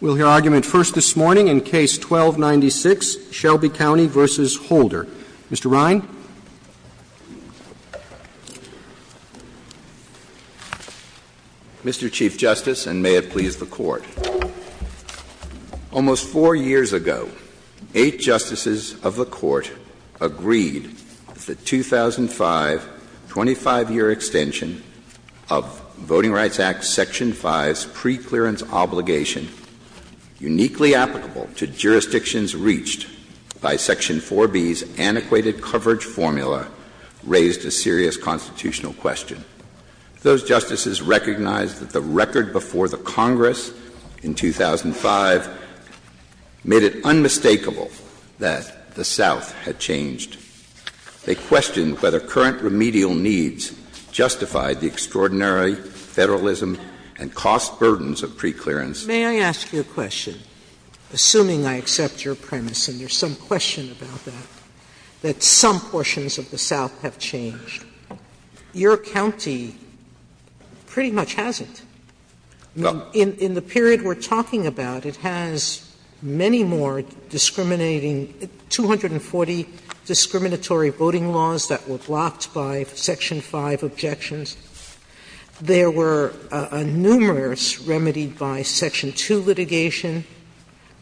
We'll hear argument first this morning in case 1296, Shelby County v. Holder. Mr. Rhyne? Mr. Chief Justice, and may it please the Court, almost four years ago, eight justices of the uniquely applicable to jurisdictions reached by Section 4B's antiquated coverage formula raised a serious constitutional question. Those justices recognized that the record before the Congress in 2005 made it unmistakable that the South had changed. They questioned whether current remedial needs justified the extraordinary federalism and cost burdens of preclearance. May I ask you a question? Assuming I accept your premise and there's some question about that, that some portions of the South have changed, your county pretty much hasn't. In the period we're talking about, it has many more discriminating — 240 discriminatory voting laws that were blocked by Section 5 objections. There were numerous remedied by Section 2 litigation.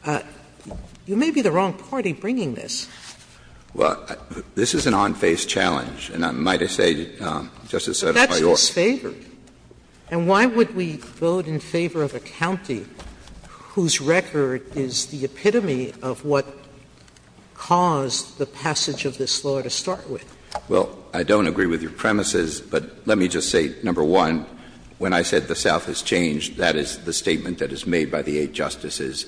You may be the wrong party bringing this. Well, this is an on-face challenge, and I might say, Justice Sotomayor — Well, I don't agree with your premises, but let me just say, number one, when I said the South has changed, that is the statement that is made by the eight justices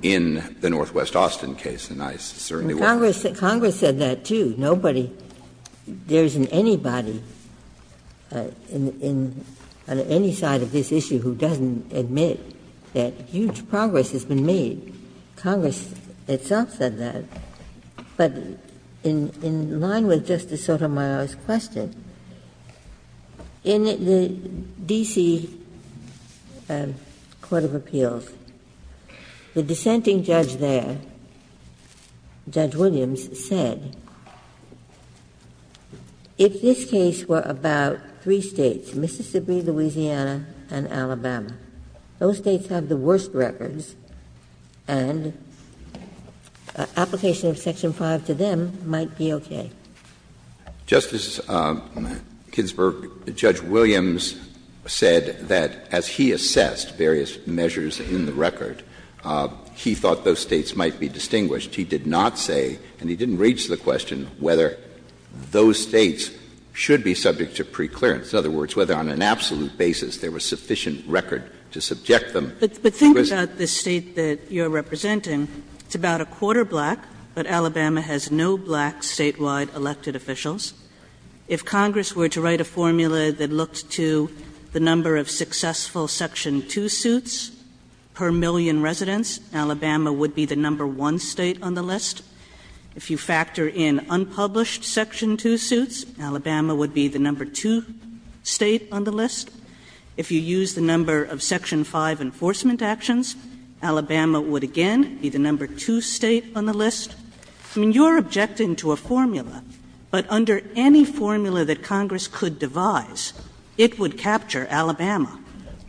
in the Northwest Austin case, and I certainly won't — Congress said that, too. Nobody — there isn't anybody in the Northwest Austin case who has said that the South has changed. There isn't anybody on any side of this issue who doesn't admit that huge progress has been made. Congress itself said that, but in line with Justice Sotomayor's question, in the D.C. Court of Appeals, the dissenting judge there, Judge Williams, said, if this case were about three states, Mississippi, Louisiana, and Alabama, those states have the worst records, and an application of Section 5 to them might be okay. Justice Ginsburg, Judge Williams said that as he assessed various measures in the record, he thought those states might be distinguished. He did not say, and he didn't reach the question, whether those states should be subject to preclearance, in other words, whether on an absolute basis there was sufficient record to subject them. But think about the state that you're representing. It's about a quarter black, but Alabama has no black statewide elected officials. If Congress were to write a formula that looked to the number of successful Section 2 suits per million residents, Alabama would be the number one state on the list. If you factor in unpublished Section 2 suits, Alabama would be the number two state on the list. If you use the number of Section 5 enforcement actions, Alabama would again be the number two state on the list. I mean, you're objecting to a formula, but under any formula that Congress could devise, it would capture Alabama.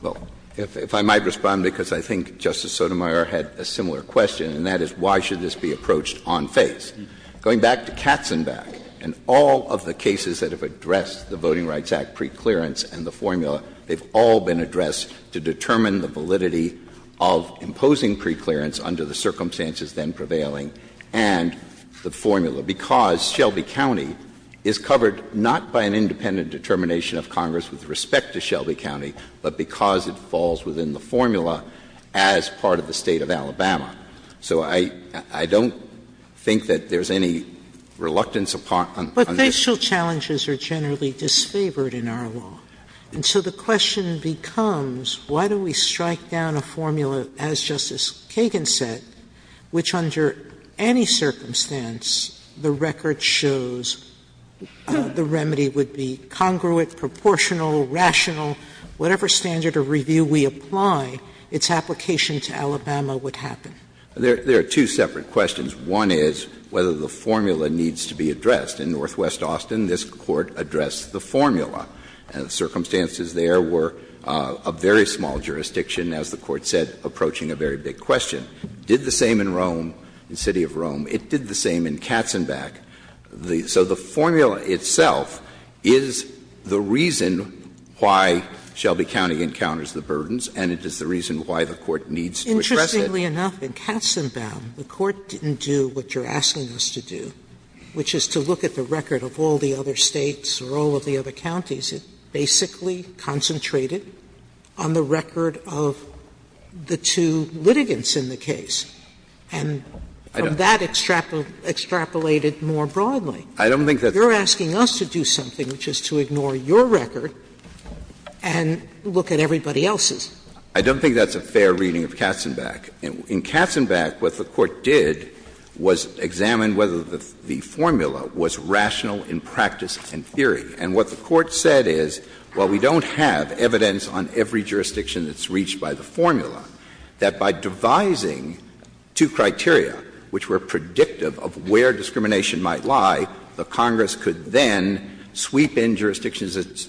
Well, if I might respond, because I think Justice Sotomayor had a similar question, and that is, why should this be approached on faith? Going back to Katzenbach and all of the cases that have addressed the Voting Rights Act preclearance and the formula, they've all been addressed to determine the validity of imposing preclearance under the circumstances then prevailing, and the formula. Because Shelby County is covered not by an independent determination of Congress with respect to Shelby County, but because it falls within the formula as part of the state of Alabama. So I don't think that there's any reluctance upon — But judicial challenges are generally disfavored in our law. And so the question becomes, why don't we strike down a formula, as Justice Kagan said, which under any circumstance, the record shows the remedy would be congruent, proportional, rational. Whatever standard of review we apply, its application to Alabama would happen. There are two separate questions. One is whether the formula needs to be addressed. In Northwest Austin, this Court addressed the formula. Circumstances there were a very small jurisdiction, as the Court said, approaching a very big question. Did the same in Rome, the city of Rome. It did the same in Katzenbach. So the formula itself is the reason why Shelby County encounters the burdens, and it is the reason why the Court needs to address it. Sotomayor. Sotomayor. I don't think that's a fair reading of Katzenbach. In Katzenbach, what the Court did was examine whether the formula was rational in practice and theory. And what the Court said is, while we don't have evidence on every jurisdiction that's reached by the formula, that by devising two criteria, one is rational and the other is theoretical, that the formula is rational and the theory is theoretical. And so the Court said, well, let's go back to the original formulation. Let's go back to the original formulation. The formula was rational, and the theory was theoretical. And so what the Court said is, while we don't have evidence on every jurisdiction that's reached by the formula, that by devising two criteria, one is rational and the other is theoretical.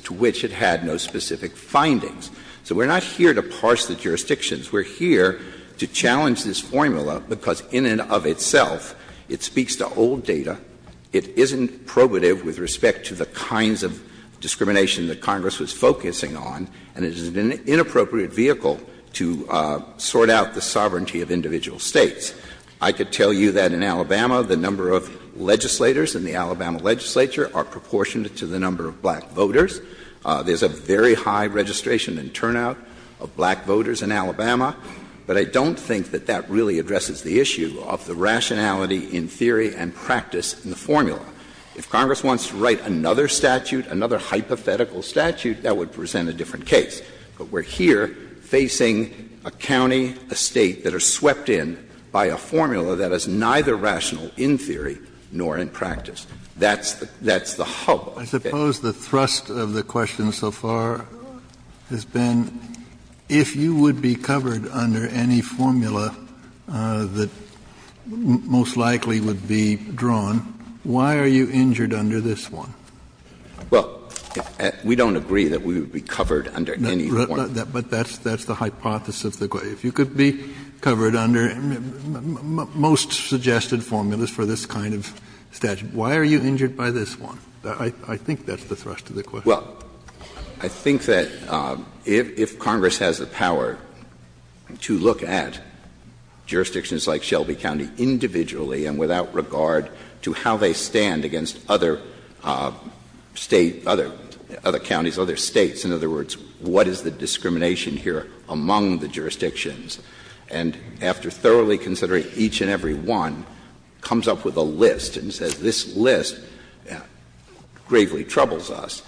I could tell you that in Alabama, the number of legislators in the Alabama legislature are proportionate to the number of black voters. There's a very high registration and turnout of black voters in Alabama. But I don't think that that really addresses the issue of the rationality in theory and practice in the formula. If Congress wants to write another statute, another hypothetical statute, that would present a different case. But we're here facing a county, a state that are swept in by a formula that is neither rational in theory nor in practice. That's the hub. I suppose the thrust of the question so far has been, if you would be covered under any formula that most likely would be drawn, why are you injured under this one? Well, we don't agree that we would be covered under any formula. But that's the hypothesis of the Court. If you could be covered under most suggested formulas for this kind of statute, why are you injured by this one? I think that's the thrust of the question. Well, I think that if Congress has the power to look at jurisdictions like Shelby County individually and without regard to how they stand against other states, other counties, other states, in other words, what is the discrimination here among the jurisdictions, and after thoroughly considering each and every one, comes up with a list and says, this list gravely troubles us.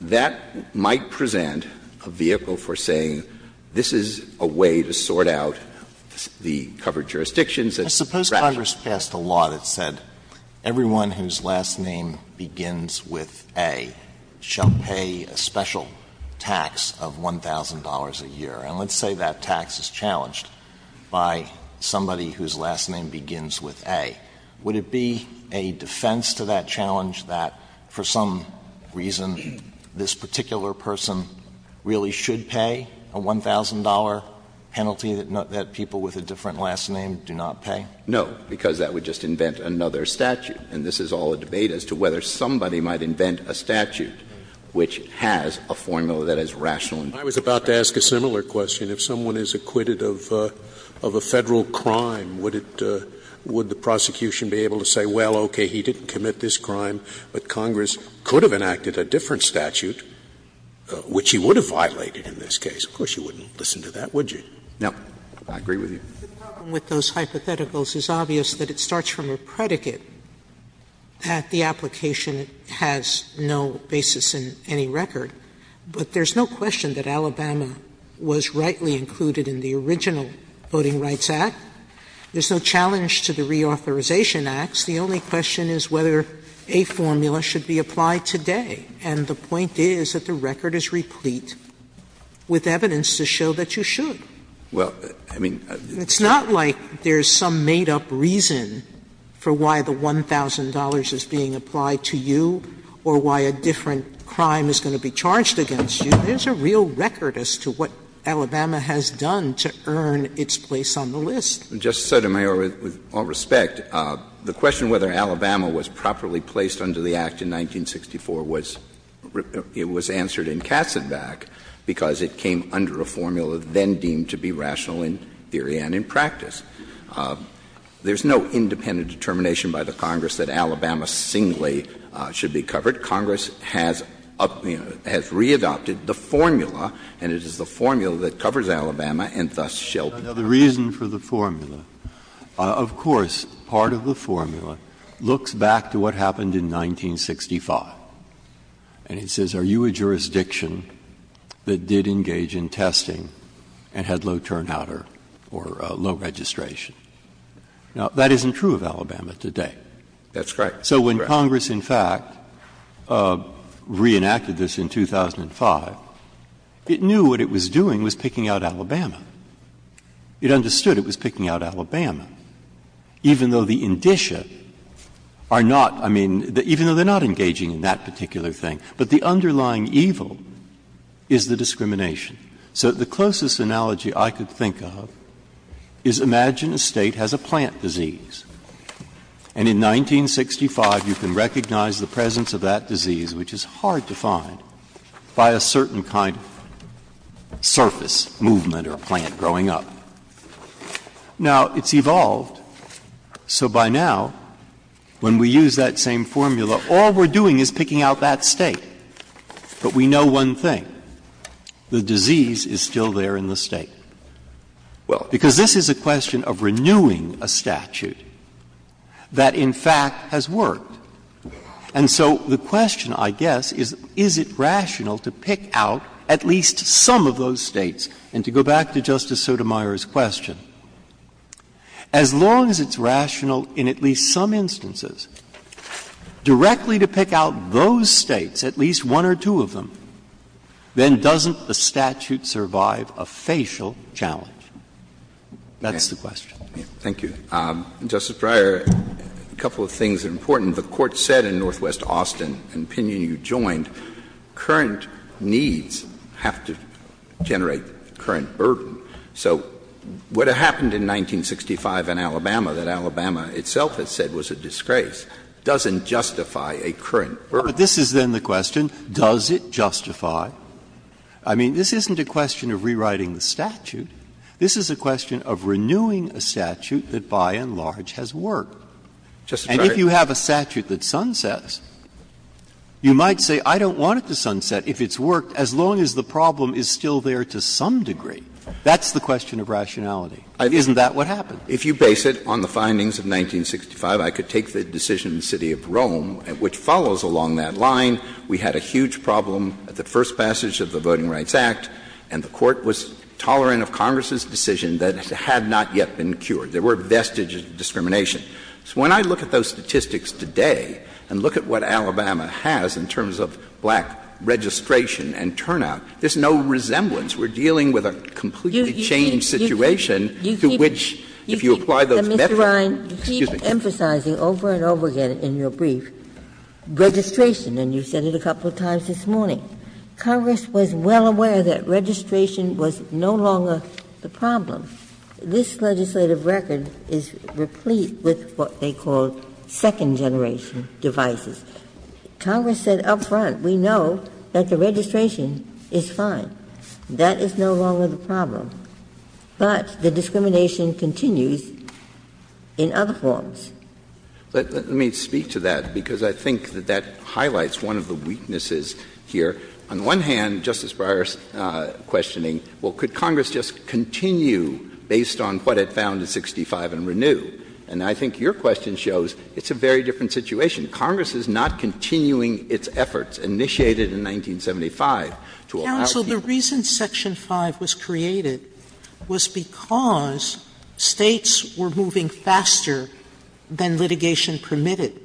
That might present a vehicle for saying, this is a way to sort out the covered jurisdictions that's— Suppose Congress passed a law that said everyone whose last name begins with A shall pay a special tax of $1,000 a year. And let's say that tax is challenged by somebody whose last name begins with A. Would it be a defense to that challenge that, for some reason, this particular person really should pay a $1,000 penalty that people with a different last name do not pay? No, because that would just invent another statute. And this is all a debate as to whether somebody might invent a statute which has a formula that is rational in nature. I was about to ask a similar question. If someone is acquitted of a Federal crime, would it — would the prosecution be able to say, well, okay, he didn't commit this crime, but Congress could have enacted a different statute, which he would have violated in this case? Of course, you wouldn't listen to that, would you? No. I agree with you. The problem with those hypotheticals is obvious, but it starts from a predicate that the application has no basis in any record. But there's no question that Alabama was rightly included in the original Voting Rights Act. There's no challenge to the Reauthorization Act. The only question is whether a formula should be applied today. And the point is that the record is replete with evidence to show that you should. Well, I mean — It's not like there's some made-up reason for why the $1,000 is being applied to you or why a different crime is going to be charged against you. There's a real record as to what Alabama has done to earn its place on the list. Justice Sotomayor, with all respect, the question whether Alabama was properly placed under the Act in 1964 was — it was answered in Katzenbach because it came under a formula then deemed to be rational in theory and in practice. There's no independent determination by the Congress that Alabama singly should be covered. Congress has re-adopted the formula, and it is the formula that covers Alabama, and thus shall be. Now, the reason for the formula — of course, part of the formula looks back to what happened in 1965, and it says, are you a jurisdiction that did engage in testing and had low turnout or low registration? Now, that isn't true of Alabama today. That's correct. So when Congress, in fact, re-enacted this in 2005, it knew what it was doing was picking out Alabama. It understood it was picking out Alabama, even though the indicia are not — I mean, even though they're not engaging in that particular thing. But the underlying evil is the discrimination. So the closest analogy I could think of is imagine a state has a plant disease, and in 1965 you can recognize the presence of that disease, which is hard to find, by a certain kind of surface movement or plant growing up. Now, it's evolved. So by now, when we use that same formula, all we're doing is picking out that state. But we know one thing. The disease is still there in the state. Well, because this is a question of renewing a statute that, in fact, has worked. And so the question, I guess, is, is it rational to pick out at least some of those states? And to go back to Justice Sotomayor's question, as long as it's rational in at least some instances directly to pick out those states, at least one or two of them, then doesn't the statute survive a facial challenge? That's the question. Thank you. Justice Breyer, a couple of things are important. The Court said in Northwest Austin, and, Pina, you joined, current needs have to generate current burden. So what happened in 1965 in Alabama that Alabama itself had said was a disgrace doesn't justify a current burden. But this is then the question, does it justify? I mean, this isn't a question of rewriting the statute. This is a question of renewing a statute that, by and large, has worked. And if you have a statute that sunsets, you might say, I don't want it to sunset if it's worked, as long as the problem is still there to some degree. That's the question of rationality. Isn't that what happened? If you base it on the findings of 1965, I could take the decision in the city of Rome, which follows along that line. We had a huge problem at the first passage of the Voting Rights Act, and the Court was tolerant of Congress's decision that had not yet been cured. There were vestiges of discrimination. So when I look at those statistics today, and look at what Alabama has in terms of black registration and turnout, there's no resemblance. We're dealing with a completely changed situation through which, if you apply those metrics — And you said it a couple times this morning. Congress was well aware that registration was no longer the problem. This legislative record is replete with what they call second-generation devices. Congress said up front, we know that the registration is fine. That is no longer the problem. But the discrimination continues in other forms. Let me speak to that, because I think that that highlights one of the weaknesses here. On the one hand, Justice Breyer's questioning, well, could Congress just continue based on what it found in 1965 and renew? And I think your question shows it's a very different situation. Congress is not continuing its efforts initiated in 1975. So the reason Section 5 was created was because states were moving faster than litigation permitted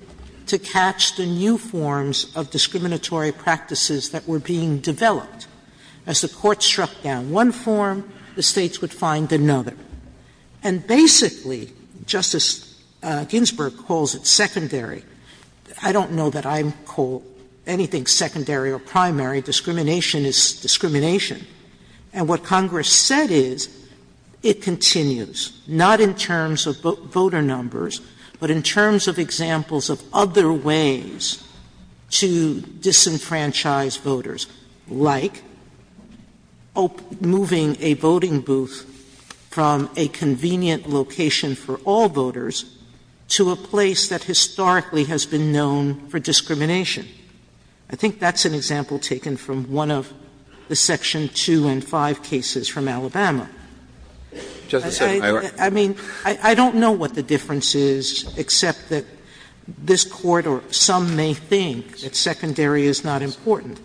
to catch the new forms of discriminatory practices that were being developed. As the Court struck down one form, the states would find another. And basically, Justice Ginsburg calls it secondary. I don't know that I call anything secondary or primary. Discrimination is discrimination. And what Congress said is, it continues. Not in terms of voter numbers, but in terms of examples of other ways to disenfranchise voters. I think that's an example taken from one of the Section 2 and 5 cases from Alabama. I mean, I don't know what the difference is, except that this Court, or some may think, that secondary is not important.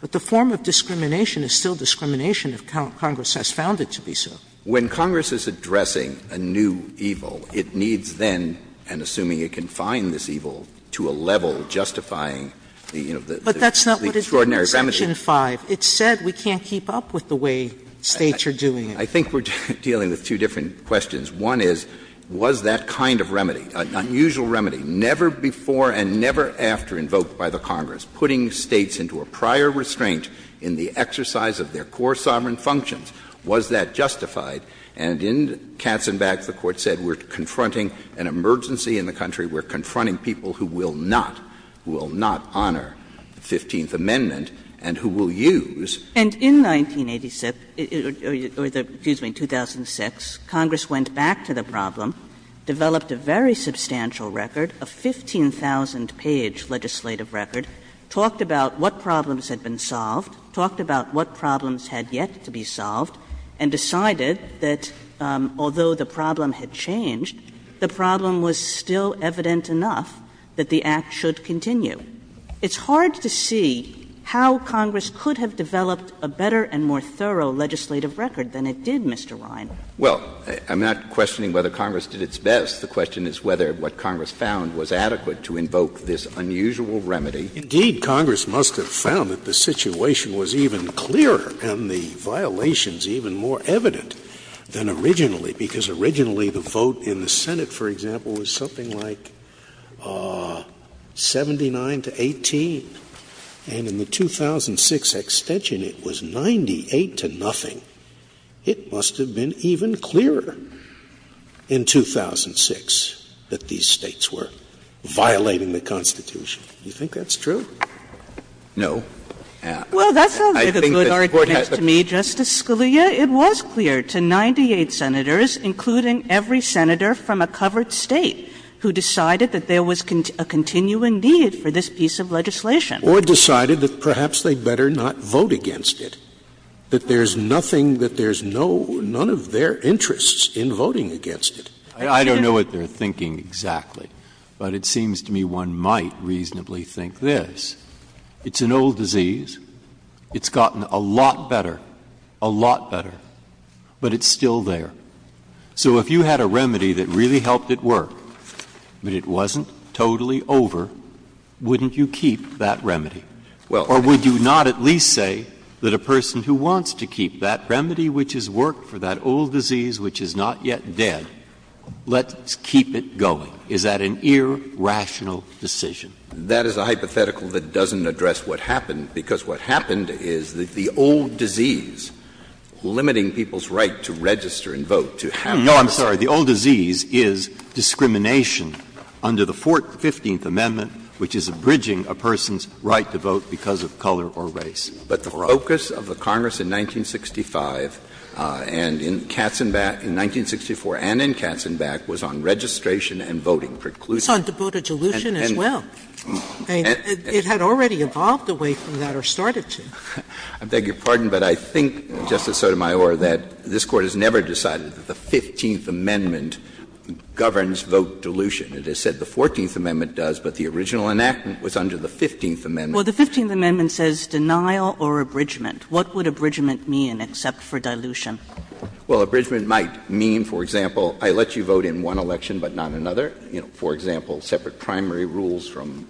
But the form of discrimination is still discrimination if Congress has found it to be so. When Congress is addressing a new evil, it needs then, and assuming it can find this evil, to a level justifying the extraordinary remedy. But that's not what is written in Section 5. It's said we can't keep up with the way states are doing it. I think we're dealing with two different questions. One is, was that kind of remedy, an unusual remedy, never before and never after invoked by the Congress, putting states into a prior restraint in the exercise of their core sovereign functions, was that justified? And in Katzenbach, the Court said, we're confronting an emergency in the country. We're confronting people who will not honor the 15th Amendment and who will use— Excuse me, 2006, Congress went back to the problem, developed a very substantial record, a 15,000-page legislative record, talked about what problems had been solved, talked about what problems had yet to be solved, and decided that, although the problem had changed, the problem was still evident enough that the Act should continue. It's hard to see how Congress could have developed a better and more thorough legislative record than it did, Mr. Ryan. Well, I'm not questioning whether Congress did its best. The question is whether what Congress found was adequate to invoke this unusual remedy. Indeed, Congress must have found that the situation was even clearer and the violations even more evident than originally, because originally the vote in the Senate, for example, was something like 79 to 18, and in the 2006 extension it was 98 to nothing. It must have been even clearer in 2006 that these states were violating the Constitution. Do you think that's true? No. Well, that's a good argument to me, Justice Scalia. It was clear to 98 senators, including every senator from a covered state, who decided that there was a continuing need for this piece of legislation. Or decided that perhaps they better not vote against it, that there's nothing, that there's none of their interests in voting against it. I don't know what they're thinking exactly, but it seems to me one might reasonably think this. It's an old disease. It's gotten a lot better, a lot better, but it's still there. So if you had a remedy that really helped it work, but it wasn't totally over, wouldn't you keep that remedy? Or would you not at least say that a person who wants to keep that remedy, which has worked for that old disease which is not yet dead, let's keep it going? Is that an irrational decision? That is a hypothetical that doesn't address what happened, because what happened is that the old disease, limiting people's right to register and vote, to have — No, I'm sorry. The old disease is discrimination under the Fourth, Fifteenth Amendment, which is abridging a person's right to vote because of color or race. But the focus of the Congress in 1965 and in Katzenbach, in 1964 and in Katzenbach, was on registration and voting preclusions. It's on voter dilution as well. It had already evolved away from that or started to. I beg your pardon, but I think, Justice Sotomayor, that this Court has never decided that the Fifteenth Amendment governs vote dilution. As I said, the Fourteenth Amendment does, but the original enactment was under the Fifteenth Amendment. Well, the Fifteenth Amendment says denial or abridgment. What would abridgment mean except for dilution? Well, abridgment might mean, for example, I let you vote in one election but not another. You know, for example, separate primary rules from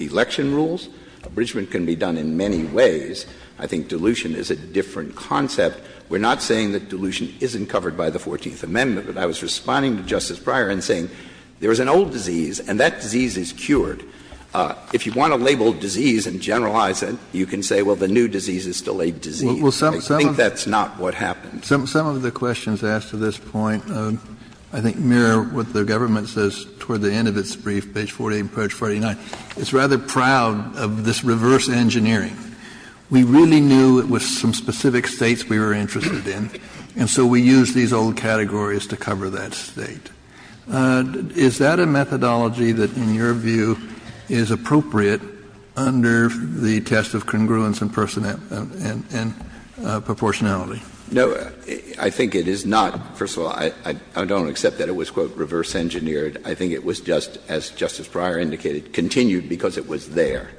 election rules. Abridgment can be done in many ways. I think dilution is a different concept. We're not saying that dilution isn't covered by the Fourteenth Amendment, but I was responding to Justice Breyer in saying there is an old disease and that disease is cured. If you want to label disease and generalize it, you can say, well, the new disease is still a disease. I think that's not what happens. Some of the questions asked to this point I think mirror what the government says toward the end of its brief, page 48 and page 49. It's rather proud of this reverse engineering. We really knew it was some specific states we were interested in, and so we used these old categories to cover that state. Is that a methodology that, in your view, is appropriate under the test of congruence and proportionality? No, I think it is not. First of all, I don't accept that it was, quote, reverse engineered. I think it was just, as Justice Breyer indicated, continued because it was there.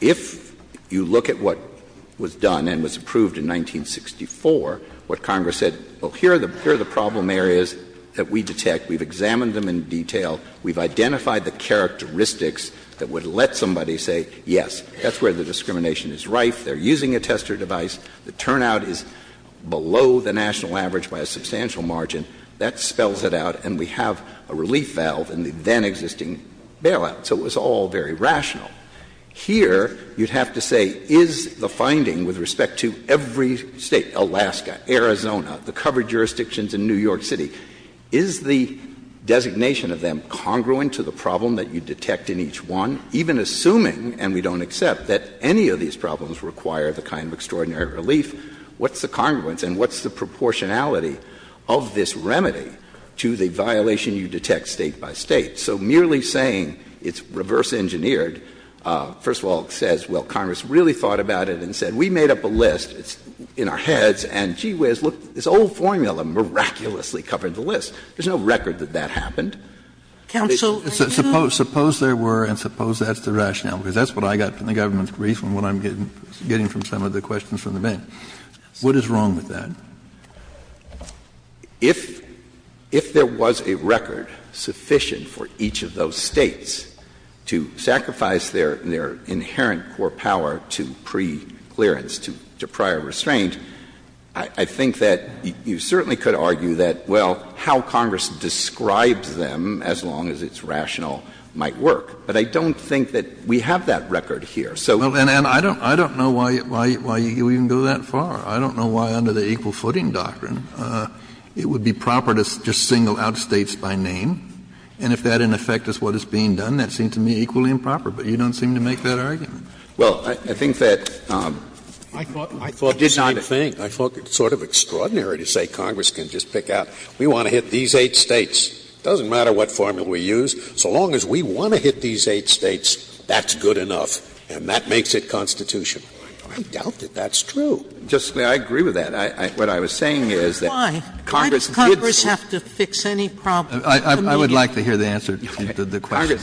If you look at what was done and was approved in 1964, what Congress said, well, here are the problem areas that we detect. We've examined them in detail. We've identified the characteristics that would let somebody say, yes, that's where the discrimination is right. They're using a tester device. The turnout is below the national average by a substantial margin. That spells it out, and we have a relief valve and the then existing bailout, so it was all very rational. Here, you'd have to say, is the finding with respect to every state, Alaska, Arizona, the covered jurisdictions in New York City, is the designation of them congruent to the problem that you detect in each one? Even assuming, and we don't accept, that any of these problems require the kind of extraordinary relief, what's the congruence and what's the proportionality of this remedy to the violation you detect state by state? So merely saying it's reverse engineered, first of all, says, well, Congress really thought about it and said, we made up a list. It's in our heads, and gee whiz, look, this old formula miraculously covered the list. There's no record that that happened. Suppose there were, and suppose that's the rationale, because that's what I got from the government's brief and what I'm getting from some of the questions from the bank. What is wrong with that? If there was a record sufficient for each of those states to sacrifice their inherent core power to preclearance, to prior restraint, I think that you certainly could argue that, well, how Congress describes them, as long as it's rational, might work. But I don't think that we have that record here. And I don't know why you even go that far. I don't know why, under the equal footing doctrine, it would be proper to just single out states by name, and if that, in effect, is what is being done, that seems to me equally improper, but you don't seem to make that argument. Well, I think that... I did not think. I thought it was sort of extraordinary to say Congress can just pick out, we want to hit these eight states. It doesn't matter what formula we use, so long as we want to hit these eight states, that's good enough, and that makes it constitutional. I doubt that that's true. I agree with that. What I was saying is that Congress... Why? Why does Congress have to fix any problems? I would like to hear the answer to the question.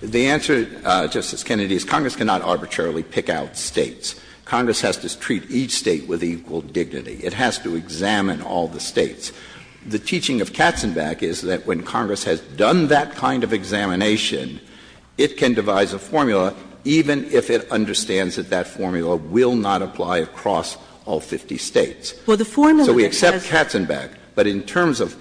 The answer, Justice Kennedy, is Congress cannot arbitrarily pick out states. Congress has to treat each state with equal dignity. It has to examine all the states. The teaching of Katzenbach is that when Congress has done that kind of examination, it can devise a formula, even if it understands that that formula will not apply across all 50 states. So we accept Katzenbach, but in terms of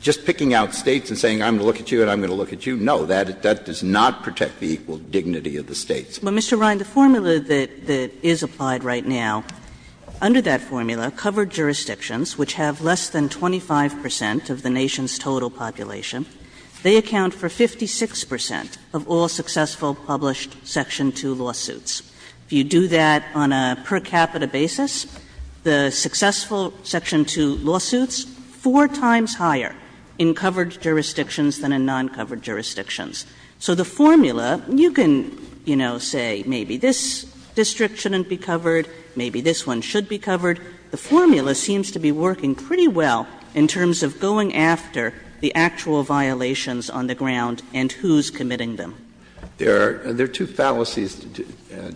just picking out states and saying I'm going to look at you and I'm going to look at you, no, that does not protect the equal dignity of the states. Well, Mr. Ryan, the formula that is applied right now, under that formula, covered jurisdictions, which have less than 25 percent of the nation's total population, they account for 56 percent of all successful published Section 2 lawsuits. If you do that on a per capita basis, the successful Section 2 lawsuits, it's four times higher in covered jurisdictions than in non-covered jurisdictions. So the formula, you can, you know, say maybe this district shouldn't be covered, maybe this one should be covered. The formula seems to be working pretty well in terms of going after the actual violations on the ground and who's committing them. There are two fallacies,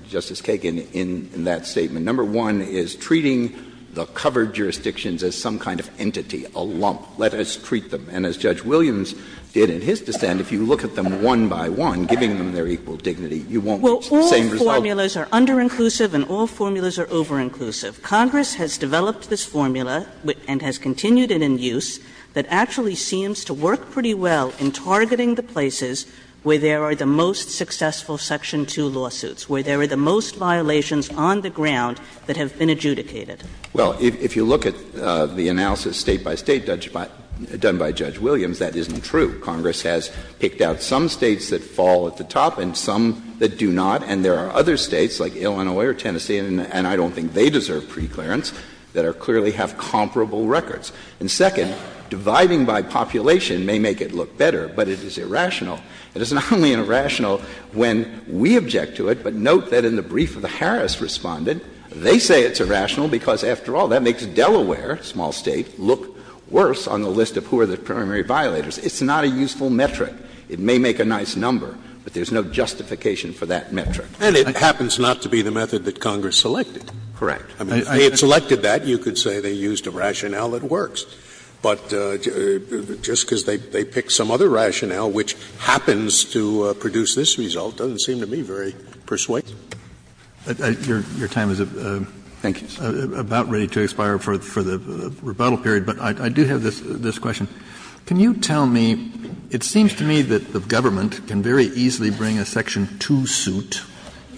Justice Kagan, in that statement. Number one is treating the covered jurisdictions as some kind of entity, a lump. Let us treat them. And as Judge Williams did in his dissent, if you look at them one by one, giving them their equal dignity, you won't. Well, all formulas are under-inclusive and all formulas are over-inclusive. Congress has developed this formula and has continued it in use that actually seems to work pretty well in targeting the places where there are the most successful Section 2 lawsuits, where there are the most violations on the ground that have been adjudicated. Well, if you look at the analysis state by state done by Judge Williams, that isn't true. Congress has picked out some states that fall at the top and some that do not. And there are other states like Illinois or Tennessee, and I don't think they deserve preclearance, that clearly have comparable records. And second, dividing by population may make it look better, but it is irrational. It is not only irrational when we object to it, but note that in the brief that Harris responded, they say it's irrational because, after all, that makes Delaware, a small state, look worse on the list of who are the primary violators. It's not a useful metric. It may make a nice number, but there's no justification for that metric. And it happens not to be the method that Congress selected. Correct. If they had selected that, you could say they used a rationale that works. But just because they picked some other rationale, which happens to produce this result, doesn't seem to me very persuasive. Your time is about ready to expire for the rebuttal period, but I do have this question. Can you tell me, it seems to me that the government can very easily bring a Section 2 suit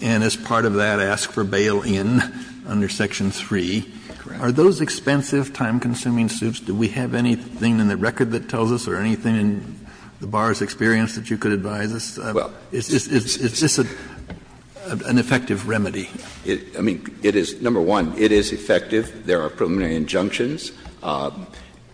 and, as part of that, ask for bail in under Section 3. Are those expensive, time-consuming suits? Do we have anything in the record that tells us, or anything in the bar's experience that you could advise us? It's just an effective remedy. I mean, number one, it is effective. There are preliminary injunctions.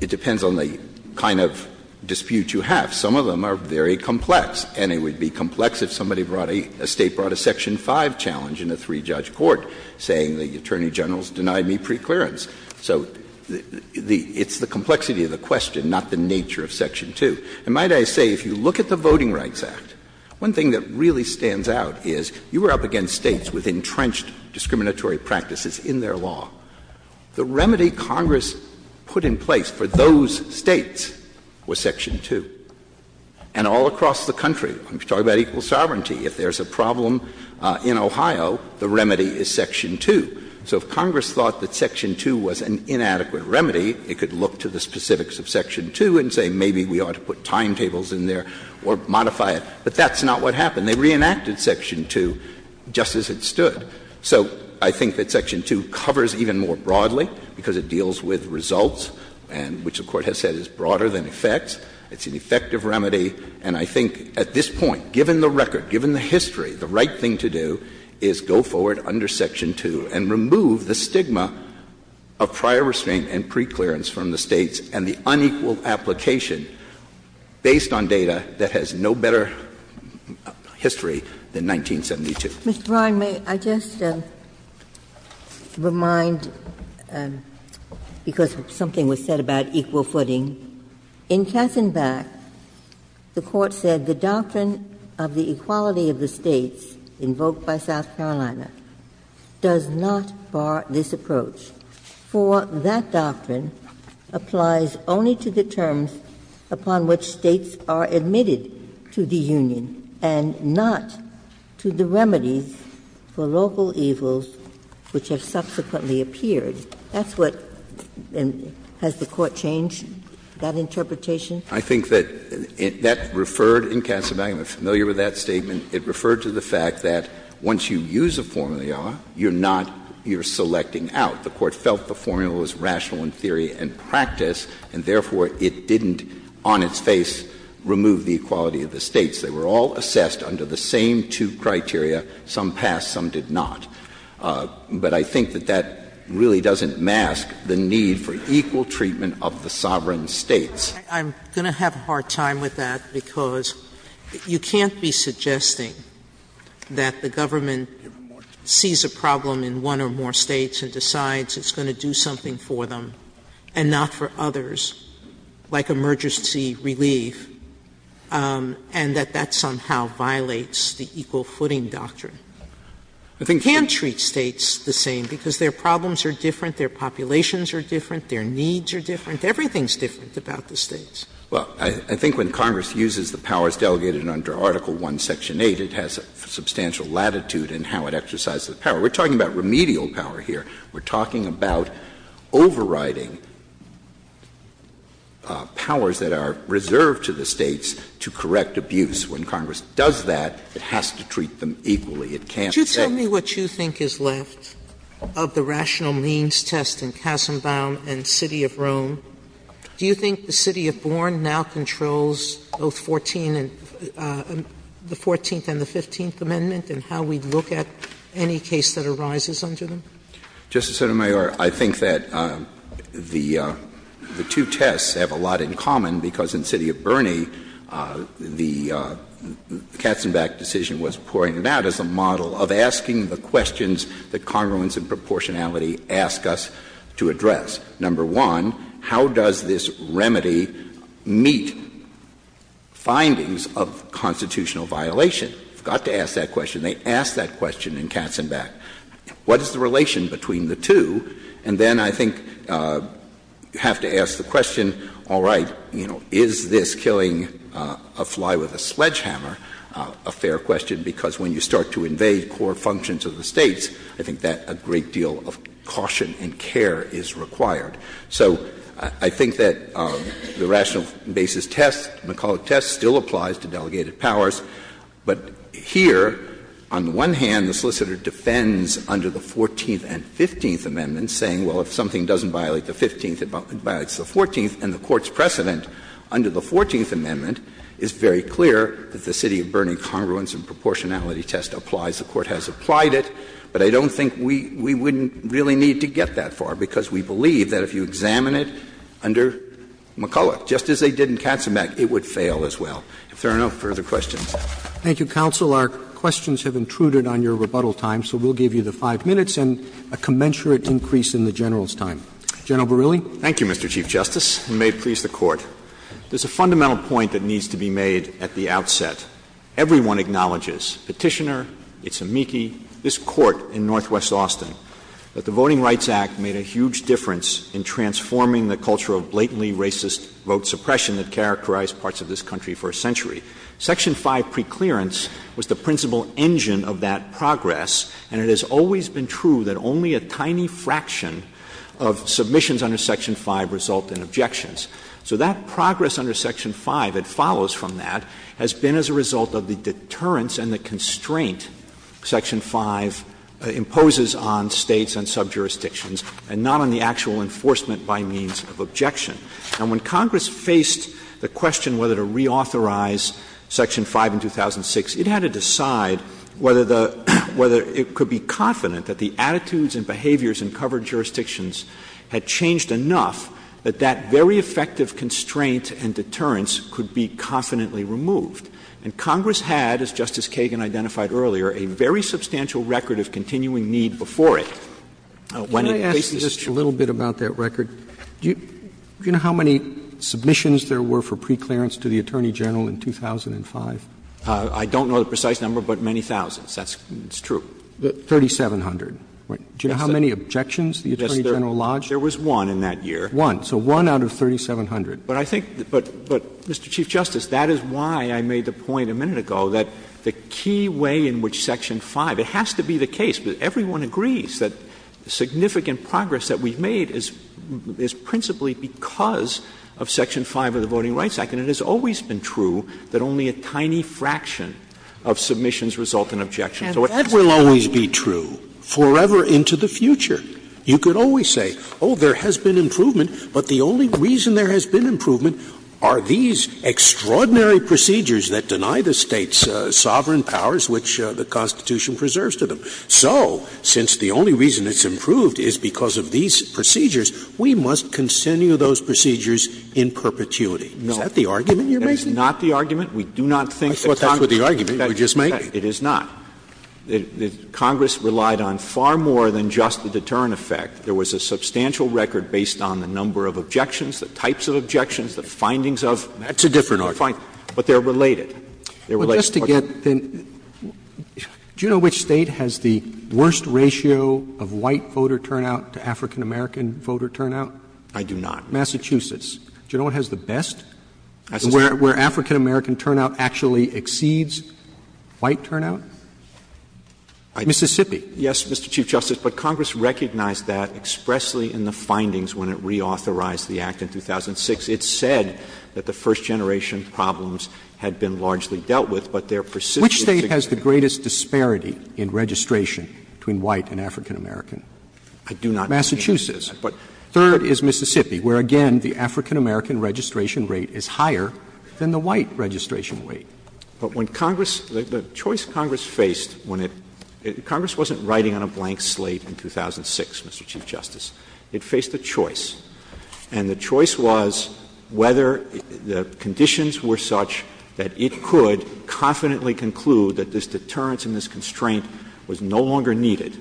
It depends on the kind of dispute you have. Some of them are very complex. And it would be complex if somebody brought a — a State brought a Section 5 challenge in a three-judge court, saying the Attorney General has denied me preclearance. So it's the complexity of the question, not the nature of Section 2. And might I say, if you look at the Voting Rights Act, one thing that really stands out is you were up against States with entrenched discriminatory practices in their law. The remedy Congress put in place for those States was Section 2. And all across the country, we're talking about equal sovereignty. If there's a problem in Ohio, the remedy is Section 2. So if Congress thought that Section 2 was an inadequate remedy, it could look to the specifics of Section 2 and say maybe we ought to put timetables in there or modify it. But that's not what happened. So I think that Section 2 covers even more broadly because it deals with results and which the Court has said is broader than effect. It's an effective remedy. And I think at this point, given the record, given the history, the right thing to do is go forward under Section 2 and remove the stigma of prior restraint and preclearance from the States and the unequal application based on data that has no better history than 1972. Ms. Bry, may I just remind, because something was said about equal footing, in Katzenbach, the Court said the doctrine of the equality of the States invoked by South Carolina does not bar this approach. For that doctrine applies only to the terms upon which States are admitted to the Union and not to the remedy for local evils which have subsequently appeared. That's what — has the Court changed that interpretation? I think that that referred — and Katzenbach, I'm familiar with that statement — it referred to the fact that once you use a formula, you're not — you're selecting out. The Court felt the formula was rational in theory and practice, and therefore it didn't, on its face, remove the equality of the States. They were all assessed under the same two criteria. Some passed, some did not. But I think that that really doesn't mask the need for equal treatment of the sovereign States. I'm going to have a hard time with that, because you can't be suggesting that the government sees a problem in one or more States and decides it's going to do something for them and not for others, like emergency relief, and that that somehow violates the equal footing doctrine. You can't treat States the same because their problems are different, their populations are different, their needs are different. Everything's different about the States. Well, I think when Congress uses the powers delegated under Article I, Section 8, it has substantial latitude in how it exercises power. We're talking about remedial power here. We're talking about overriding powers that are reserved to the States to correct abuse. When Congress does that, it has to treat them equally. It can't — Just tell me what you think is left of the rational means test in Katzenbach and the city of Rome. Do you think the city of Bourne now controls both 14 and — the 14th and the 15th Amendment and how we look at any case that arises under them? Justice Sotomayor, I think that the two tests have a lot in common because in the city of Bourne, the Katzenbach decision was pouring it out as a model of asking the questions that congruence and proportionality ask us to address. Number one, how does this remedy meet findings of constitutional violation? Got to ask that question. They asked that question in Katzenbach. What is the relation between the two? And then I think you have to ask the question, all right, you know, is this killing a fly with a swedge hammer a fair question? Because when you start to invade core functions of the States, I think that a great deal of caution and care is required. So I think that the rational basis test, McCulloch test, still applies to delegated powers. But here, on the one hand, the solicitor defends under the 14th and 15th Amendments saying, well, if something doesn't violate the 15th, it violates the 14th. And the Court's precedent under the 14th Amendment is very clear that the city of Bourne in congruence and proportionality test applies. The Court has applied it. But I don't think we wouldn't really need to get that far because we believe that if you examine it under McCulloch, just as they did in Katzenbach, it would fail as well. Fair enough. Further questions? Thank you, Counsel. Our questions have intruded on your rebuttal time, so we'll give you the five minutes and a commensurate increase in the General's time. General Borrelli? Thank you, Mr. Chief Justice, and may it please the Court. There's a fundamental point that needs to be made at the outset. Everyone acknowledges, petitioner, it's amici, this Court in northwest Austin, that the Voting Rights Act made a huge difference in transforming the culture of blatantly racist vote suppression that characterized parts of this country for a century. Section 5 preclearance was the principal engine of that progress, and it has always been true that only a tiny fraction of submissions under Section 5 result in objections. So that progress under Section 5 that follows from that has been as a result of the deterrence and the constraint Section 5 imposes on states and subjurisdictions and not on the actual enforcement by means of objection. And when Congress faced the question whether to reauthorize Section 5 in 2006, it had to decide whether it could be confident that the attitudes and behaviors in covered jurisdictions had changed enough that that very effective constraint and deterrence could be confidently removed. And Congress had, as Justice Kagan identified earlier, a very substantial record of continuing need before it. Can I ask you just a little bit about that record? Do you know how many submissions there were for preclearance to the Attorney General in 2005? I don't know the precise number, but many thousands. That's true. 3,700. Do you know how many objections the Attorney General lodged? There was one in that year. One. So one out of 3,700. But I think — but, Mr. Chief Justice, that is why I made the point a minute ago that the key way in which Section 5 — it has to be the case that everyone agrees that significant progress that we've made is principally because of Section 5 of the Voting Rights Act. And it has always been true that only a tiny fraction of submissions result in objections. And that will always be true forever into the future. You could always say, oh, there has been improvement, but the only reason there has been improvement are these extraordinary procedures that deny the states sovereign powers which the Constitution preserves to them. So, since the only reason it's improved is because of these procedures, we must continue those procedures in perpetuity. No. Is that the argument you're making? That is not the argument. We do not think that Congress — That's exactly the argument you were just making. It is not. Congress relied on far more than just the deterrent effect. There was a substantial record based on the number of objections, the types of objections, the findings of — That's a different argument. But they're related. They're related. Well, just to get — do you know which state has the worst ratio of white voter turnout to African-American voter turnout? I do not. Massachusetts. Do you know what has the best? Where African-American turnout actually exceeds white turnout? Mississippi. Yes, Mr. Chief Justice, but Congress recognized that expressly in the findings when it reauthorized the Act in 2006. It said that the first-generation problems had been largely dealt with, but their persistent — Which state has the greatest disparity in registration between white and African-American? I do not. Massachusetts. But third is Mississippi, where, again, the African-American registration rate is higher than the white registration rate. But when Congress — the choice Congress faced when it — Congress wasn't writing on a blank slate in 2006, Mr. Chief Justice. It faced a choice. And the choice was whether the conditions were such that it could confidently conclude that this deterrence and this constraint was no longer needed.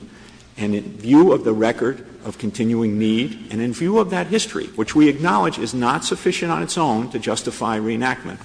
And in view of the record of continuing need and in view of that history, which we acknowledge is not sufficient on its own to justify reenactment,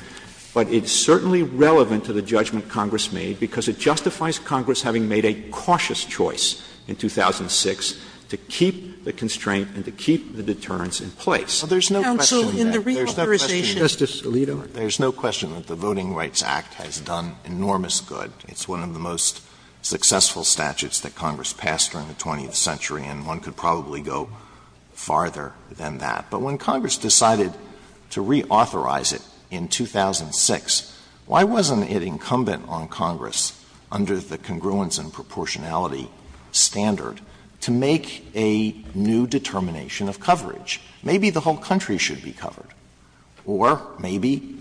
but it's certainly relevant to the judgment Congress made because it justifies Congress having made a cautious choice in 2006 to keep the constraint and to keep the deterrence in place. There's no question that — Counsel, in the reauthorization — Justice Alito, there's no question that the Voting Rights Act has done enormous good. It's one of the most successful statutes that Congress passed during the 20th century, and one could probably go farther than that. But when Congress decided to reauthorize it in 2006, why wasn't it incumbent on Congress, under the congruence and proportionality standard, to make a new determination of coverage? Maybe the whole country should be covered, or maybe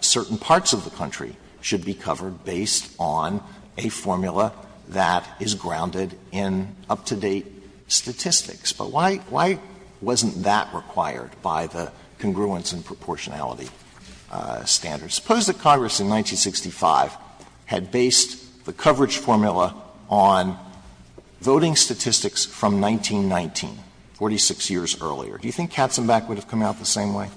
certain parts of the country should be covered based on a formula that is grounded in up-to-date statistics. But why wasn't that required by the congruence and proportionality standards? Suppose that Congress in 1965 had based the coverage formula on voting statistics from 1919, 46 years earlier. Do you think Katzenbach would have come out the same way?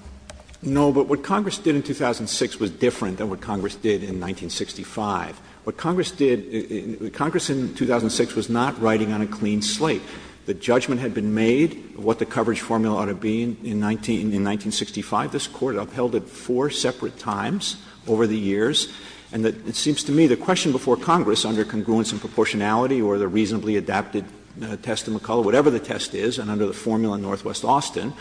No, but what Congress did in 2006 was different than what Congress did in 1965. What Congress did — Congress in 2006 was not riding on a clean slate. The judgment had been made of what the coverage formula ought to be in 1965. This Court upheld it four separate times over the years. And it seems to me the question before Congress, under congruence and proportionality or the reasonably adapted test in McCulloch, whatever the test is, and under the formula in Northwest Austin,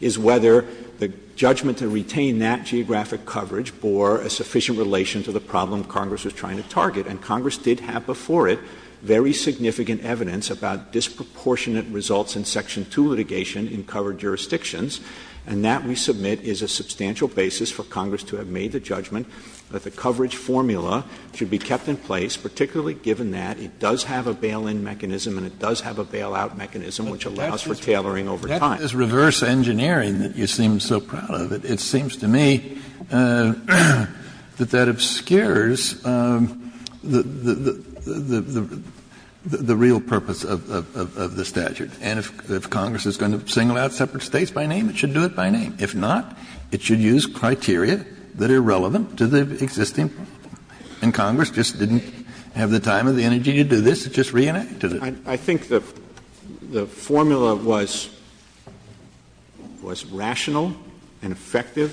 is whether the judgment to retain that geographic coverage bore a sufficient relation to the problem Congress was trying to target. And Congress did have before it very significant evidence about disproportionate results in Section 2 litigation in covered jurisdictions. And that, we submit, is a substantial basis for Congress to have made the judgment that the coverage formula should be kept in place, particularly given that it does have a bail-in mechanism and it does have a bail-out mechanism, which allows for tailoring over time. And that is reverse engineering that you seem so proud of. It seems to me that that obscures the real purpose of the statute. And if Congress is going to single out separate states by name, it should do it by name. If not, it should use criteria that are relevant to the existing. And Congress just didn't have the time or the energy to do this. It just reenacted it. I think the formula was rational and effective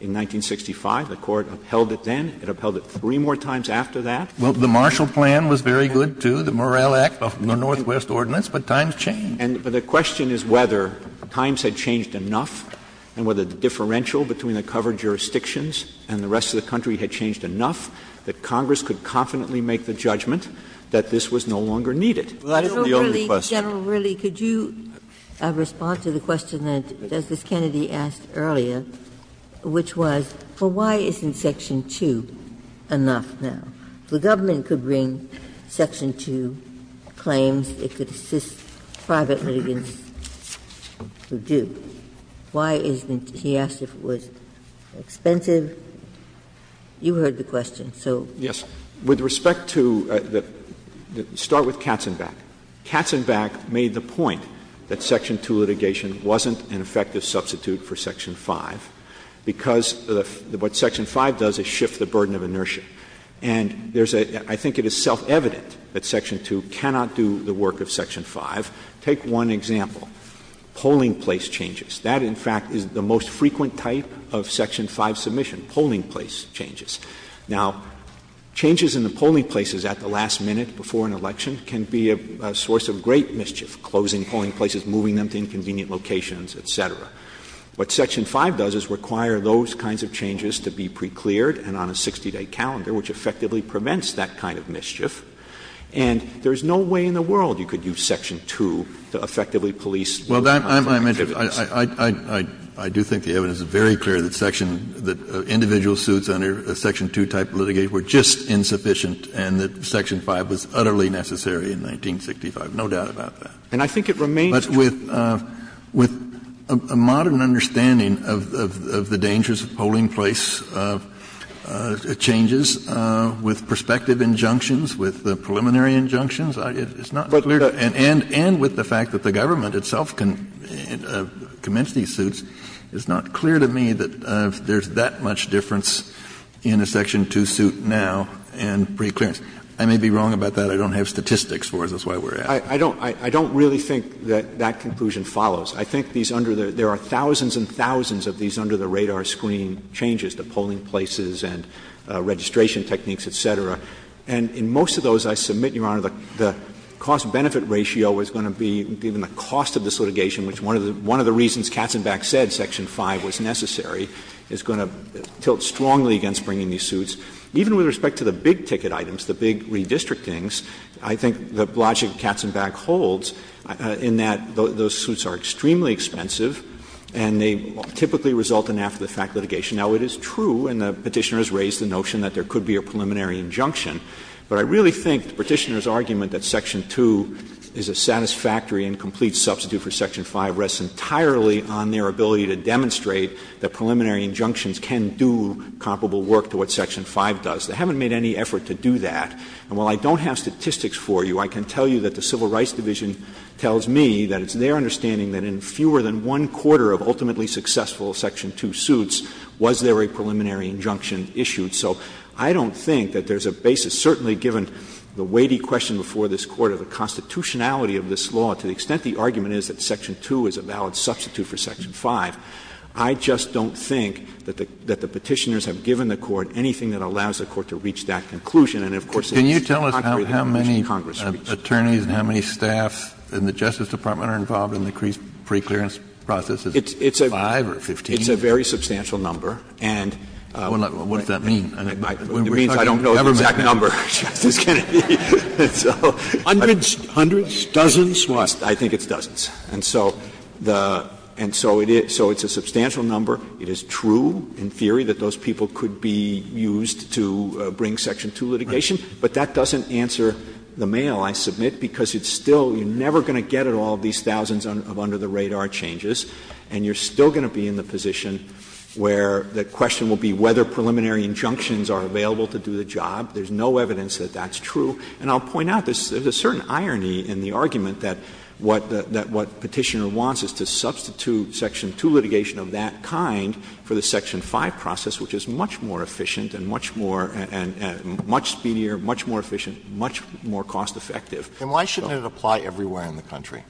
in 1965. The Court upheld it then. It upheld it three more times after that. Well, the Marshall Plan was very good, too, the Morrell Act of the Northwest Ordinance. But times changed. And the question is whether times had changed enough and whether the differential between the covered jurisdictions and the rest of the country had changed enough that Congress could confidently make the judgment that this was no longer needed. General Whirley, could you respond to the question that Justice Kennedy asked earlier, which was, well, why isn't Section 2 enough now? The government could bring Section 2 claims. It could assist private litigants who do. Why isn't — he asked if it was expensive. You heard the question. Yes. With respect to — start with Katzenbach. Katzenbach made the point that Section 2 litigation wasn't an effective substitute for Section 5 because what Section 5 does is shift the burden of inertia. And there's a — I think it is self-evident that Section 2 cannot do the work of Section 5. Take one example, polling place changes. That, in fact, is the most frequent type of Section 5 submission, polling place changes. Now, changes in the polling places at the last minute before an election can be a source of great mischief, closing polling places, moving them to inconvenient locations, et cetera. What Section 5 does is require those kinds of changes to be pre-cleared and on a 60-day calendar, which effectively prevents that kind of mischief. And there's no way in the world you could use Section 2 to effectively police — Well, that — I do think the evidence is very clear that Section — that individual suits under a Section 2 type of litigation were just insufficient and that Section 5 was utterly necessary in 1965, no doubt about that. And I think it remains — But with a modern understanding of the dangers of polling place changes, with prospective injunctions, with the preliminary injunctions, it's not — And with the fact that the government itself can commence these suits, it's not clear to me that there's that much difference in a Section 2 suit now and pre-clearance. I may be wrong about that. I don't have statistics for it. That's why we're — I don't — I don't really think that that conclusion follows. I think these under the — there are thousands and thousands of these under-the-radar screening changes to polling places and registration techniques, et cetera. And in most of those, I submit, Your Honor, the cost-benefit ratio is going to be even the cost of this litigation, which one of the reasons Katzenbach said Section 5 was necessary, is going to tilt strongly against bringing these suits. Even with respect to the big-ticket items, the big redistrictings, I think the logic Katzenbach holds in that those suits are extremely expensive and they typically result in after-the-fact litigation. Now, it is true, and the Petitioner has raised the notion that there could be a preliminary injunction, but I really think the Petitioner's argument that Section 2 is a satisfactory and complete substitute for Section 5 rests entirely on their ability to demonstrate that preliminary injunctions can do comparable work to what Section 5 does. They haven't made any effort to do that. And while I don't have statistics for you, I can tell you that the Civil Rights Division tells me that it's their understanding that in fewer than one quarter of ultimately successful Section 2 suits was there a preliminary injunction issued. So I don't think that there's a basis, certainly given the weighty question before this Court of the constitutionality of this law to the extent the argument is that Section 2 is a valid substitute for Section 5. I just don't think that the Petitioners have given the Court anything that allows the Court to reach that conclusion. And, of course, this is a concrete argument that Congress meets. Kennedy. Can you tell us how many attorneys and how many staff in the Justice Department are involved in the increased preclearance process? Is it 5 or 15? It's a very substantial number. And — Well, what does that mean? It means I don't know the exact number, Justice Kennedy. Hundreds? Dozens? What? I think it's dozens. And so the — and so it is — so it's a substantial number. It is true in theory that those people could be used to bring Section 2 litigation. But that doesn't answer the mail, I submit, because it's still — you're never going to get at all of these thousands of under-the-radar changes. And you're still going to be in the position where the question will be whether preliminary injunctions are available to do the job. There's no evidence that that's true. And I'll point out, there's a certain irony in the argument that what Petitioner wants is to substitute Section 2 litigation of that kind for the Section 5 process, which is much more efficient and much more — and much speedier, much more efficient, much more cost-effective. And why shouldn't it apply everywhere in the country?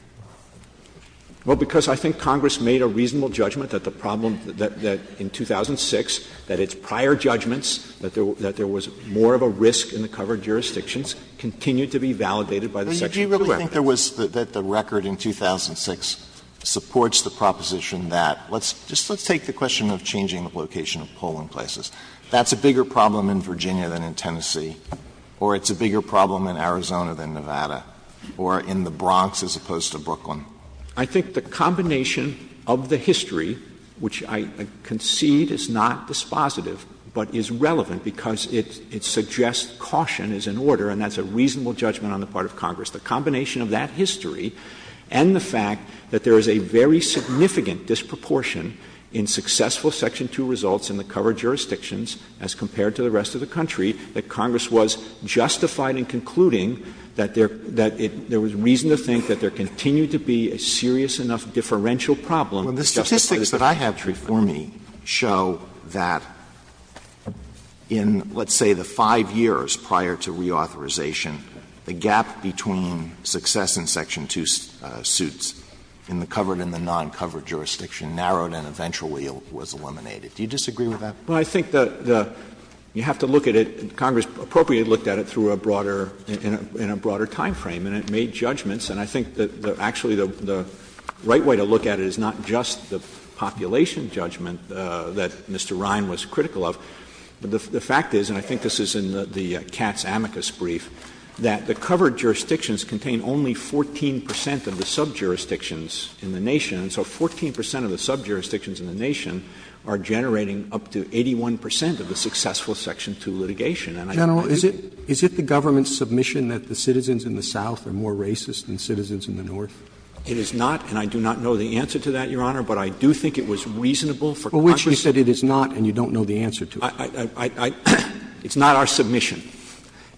Well, because I think Congress made a reasonable judgment that the problem — that in 2006, that its prior judgments, that there was more of a risk in the covered jurisdictions, continued to be validated by the Section 2 record. But do you really think there was — that the record in 2006 supports the proposition that — let's — just let's take the question of changing the location of polling places. That's a bigger problem in Virginia than in Tennessee. Or it's a bigger problem in Arizona than Nevada. Or in the Bronx as opposed to Brooklyn. I think the combination of the history, which I concede is not dispositive, but is relevant because it suggests caution is in order, and that's a reasonable judgment on the part of Congress. The combination of that history and the fact that there is a very significant disproportion in successful Section 2 results in the covered jurisdictions, as compared to the rest of the country, that Congress was justified in concluding that there — that it — there was reason to think that there continued to be a serious enough differential problem. Well, the statistics that I have for me show that in, let's say, the five years prior to reauthorization, the gap between success in Section 2 suits in the covered and the non-covered jurisdiction narrowed and eventually was eliminated. Do you disagree with that? Well, I think that the — you have to look at it — Congress appropriately looked at it through a broader — in a broader timeframe, and it made judgments. And I think that actually the right way to look at it is not just the population judgment that Mr. Ryan was critical of, but the fact is — and I think this is in the Katz amicus brief — that the covered jurisdictions contain only 14 percent of the subjurisdictions in the nation, and so 14 percent of the subjurisdictions in the nation are generating up to 81 percent of the successful Section 2 litigation. General, is it — is it the government's submission that the citizens in the South are more racist than citizens in the North? It is not, and I do not know the answer to that, Your Honor, but I do think it was reasonable for Congress — For which you said it is not, and you don't know the answer to it. It's not our submission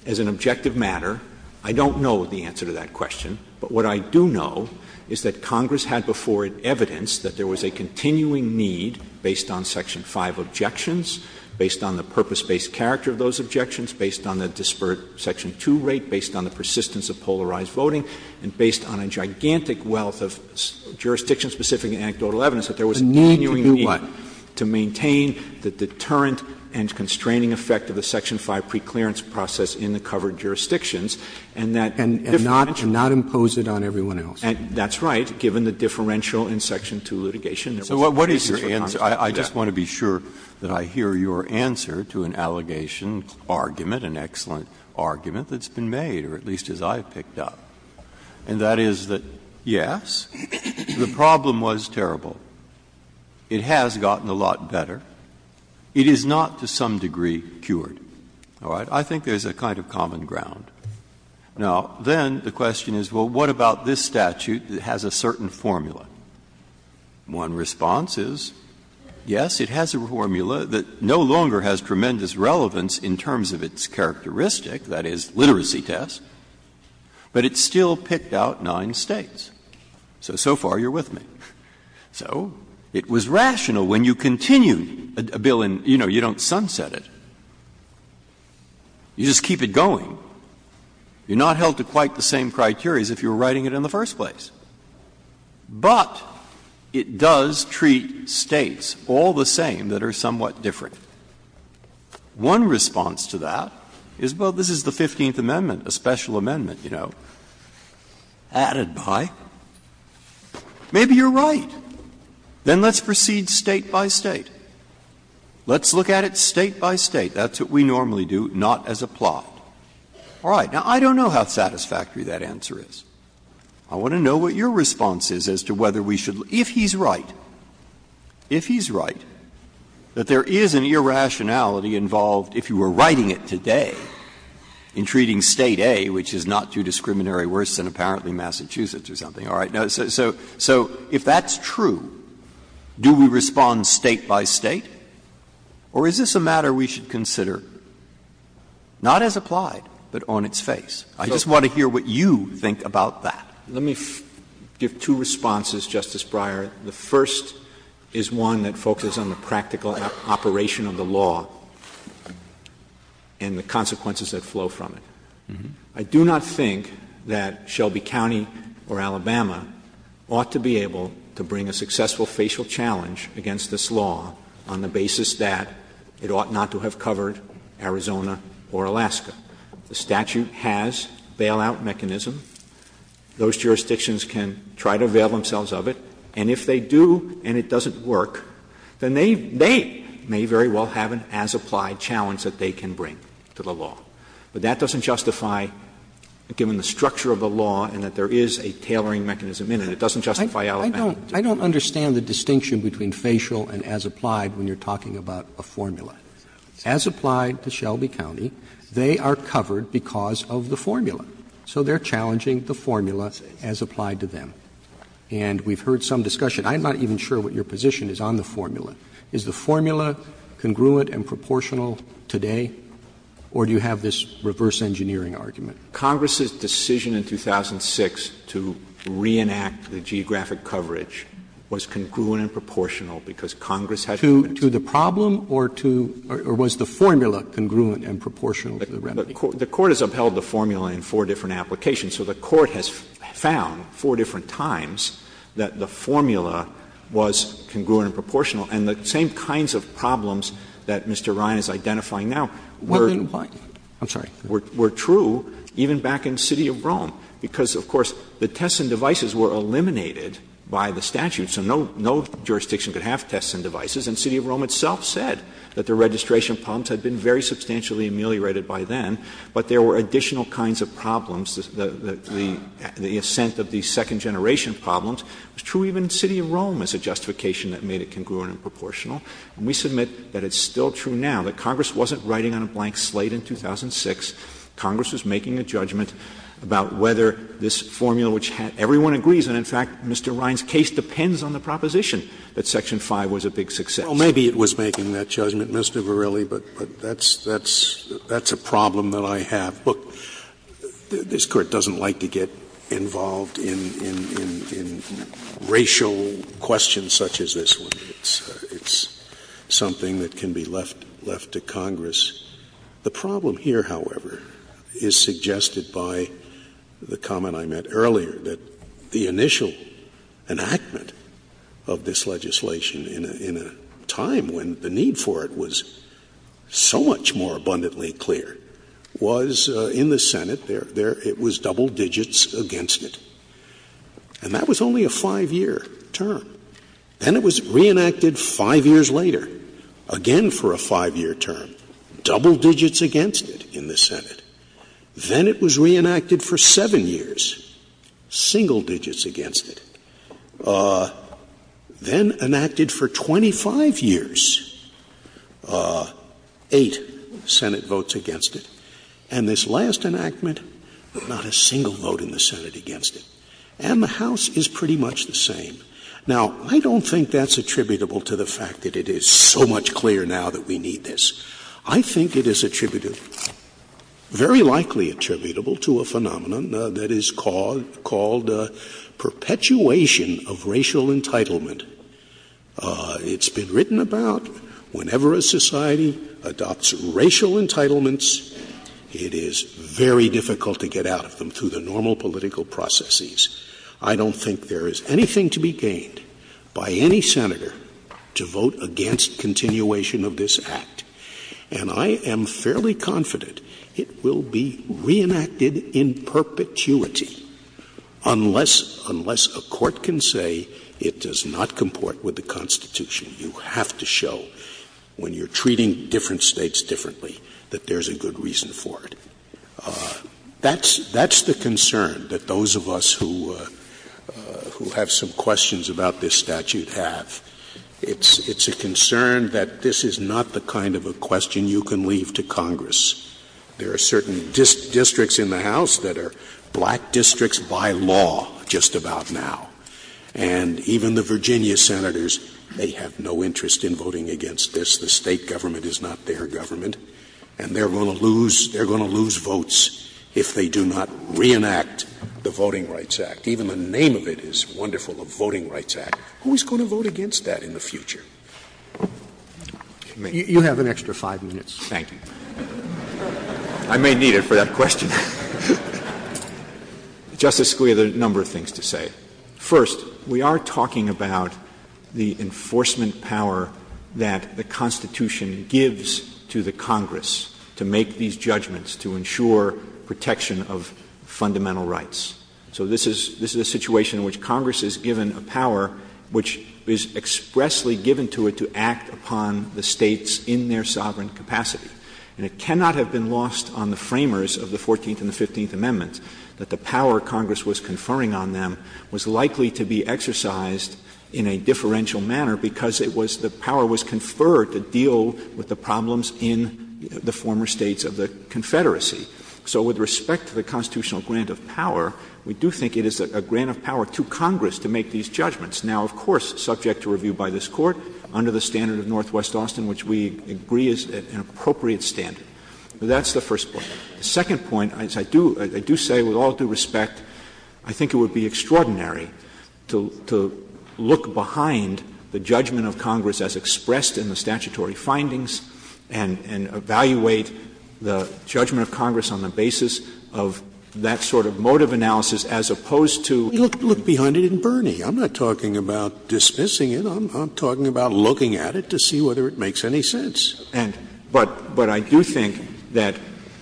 as an objective matter. I don't know the answer to that question. But what I do know is that Congress had before it evidence that there was a continuing need, based on Section 5 objections, based on the purpose-based character of those objections, based on the disparate Section 2 rate, based on the persistence of polarized voting, and based on a gigantic wealth of jurisdiction-specific anecdotal evidence that there was a continuing need — A need to do what? To maintain the deterrent and constraining effect of the Section 5 preclearance process in the covered jurisdictions, and that — And not impose it on everyone else. That's right, given the differential in Section 2 litigation. So what is your answer? I just want to be sure that I hear your answer to an allegation argument, an excellent argument, that's been made, or at least as I've picked up. And that is that, yes, the problem was terrible. It has gotten a lot better. It is not, to some degree, cured. All right? I think there's a kind of common ground. Now, then the question is, well, what about this statute that has a certain formula? One response is, yes, it has a formula that no longer has tremendous relevance in terms of its characteristic, that is, literacy test, but it still picked out nine states. So, so far you're with me. So it was rational when you continued a bill and, you know, you don't sunset it. You just keep it going. You're not held to quite the same criteria as if you were writing it in the first place. But it does treat states all the same that are somewhat different. One response to that is, well, this is the 15th Amendment, a special amendment, you know, added by. Maybe you're right. Then let's proceed state by state. Let's look at it state by state. That's what we normally do, not as a plot. All right. Now, I don't know how satisfactory that answer is. I want to know what your response is as to whether we should, if he's right, if he's right, that there is an irrationality involved, if you were writing it today, in treating state A, which is not too discriminatory, worse than apparently Massachusetts or something. All right. So if that's true, do we respond state by state, or is this a matter we should consider not as applied but on its face? I just want to hear what you think about that. Let me give two responses, Justice Breyer. The first is one that focuses on the practical operation of the law and the consequences that flow from it. I do not think that Shelby County or Alabama ought to be able to bring a successful facial challenge against this law on the basis that it ought not to have covered Arizona or Alaska. The statute has bailout mechanisms. Those jurisdictions can try to avail themselves of it. And if they do and it doesn't work, then they may very well have an as-applied challenge that they can bring to the law. But that doesn't justify, given the structure of the law and that there is a tailoring mechanism in it, it doesn't justify Alabama. I don't understand the distinction between facial and as-applied when you're talking about a formula. As applied to Shelby County, they are covered because of the formula. So they're challenging the formula as applied to them. And we've heard some discussion. I'm not even sure what your position is on the formula. Is the formula congruent and proportional today? Or do you have this reverse engineering argument? Congress's decision in 2006 to reenact the geographic coverage was congruent and proportional because Congress had— To the problem or to—or was the formula congruent and proportional? The Court has upheld the formula in four different applications. So the Court has found four different times that the formula was congruent and proportional. And the same kinds of problems that Mr. Ryan is identifying now were true even back in the city of Rome. Because, of course, the tests and devices were eliminated by the statute. So no jurisdiction could have tests and devices. And the city of Rome itself said that the registration problems had been very substantially ameliorated by then. But there were additional kinds of problems. The assent of the second-generation problems was true even in the city of Rome as a justification that made it congruent and proportional. And we submit that it's still true now. That Congress wasn't writing on a blank slate in 2006. Congress was making a judgment about whether this formula, which everyone agrees, and, in fact, Mr. Ryan's case depends on the proposition that Section 5 was a big success. Well, maybe it was making that judgment, Mr. Verrilli, but that's a problem that I have. Look, this Court doesn't like to get involved in racial questions such as this one. It's something that can be left to Congress. The problem here, however, is suggested by the comment I made earlier, that the initial enactment of this legislation in a time when the need for it was so much more abundantly clear, was in the Senate, it was double digits against it. And that was only a five-year term. Then it was reenacted five years later, again for a five-year term. Double digits against it in the Senate. Then it was reenacted for seven years. Single digits against it. Then enacted for 25 years. Eight Senate votes against it. And this last enactment, not a single vote in the Senate against it. And the House is pretty much the same. Now, I don't think that's attributable to the fact that it is so much clearer now that we need this. I think it is very likely attributable to a phenomenon that is called perpetuation of racial entitlement. It's been written about whenever a society adopts racial entitlements, it is very difficult to get out of them through the normal political processes. I don't think there is anything to be gained by any senator to vote against continuation of this act. And I am fairly confident it will be reenacted in perpetuity unless a court can say it does not comport with the Constitution. You have to show when you're treating different states differently that there's a good reason for it. That's the concern that those of us who have some questions about this statute have. It's a concern that this is not the kind of a question you can leave to Congress. There are certain districts in the House that are black districts by law just about now. And even the Virginia senators, they have no interest in voting against this. The state government is not their government. And they're going to lose votes if they do not reenact the Voting Rights Act. Even the name of it is wonderful, the Voting Rights Act. Who's going to vote against that in the future? You have an extra five minutes. Thank you. I may need it for that question. Justice Scalia, there are a number of things to say. First, we are talking about the enforcement power that the Constitution gives to the Congress to make these judgments, to ensure protection of fundamental rights. So this is a situation in which Congress is given a power which is expressly given to it to act upon the states in their sovereign capacity. And it cannot have been lost on the framers of the Fourteenth and the Fifteenth Amendments that the power Congress was conferring on them was likely to be exercised in a differential manner because it was — the power was conferred to deal with the problems in the former states of the Confederacy. So with respect to the constitutional grant of power, we do think it is a grant of power to Congress to make these judgments. Now, of course, subject to review by this Court under the standard of Northwest Austin, which we agree is an appropriate standard. That's the first point. The second point, as I do say, with all due respect, I think it would be extraordinary to look behind the judgment of Congress as expressed in the statutory findings and evaluate the judgment of Congress on the basis of that sort of motive analysis as opposed to — I'm not talking about dismissing it. I'm talking about looking at it to see whether it makes any sense. But I do think that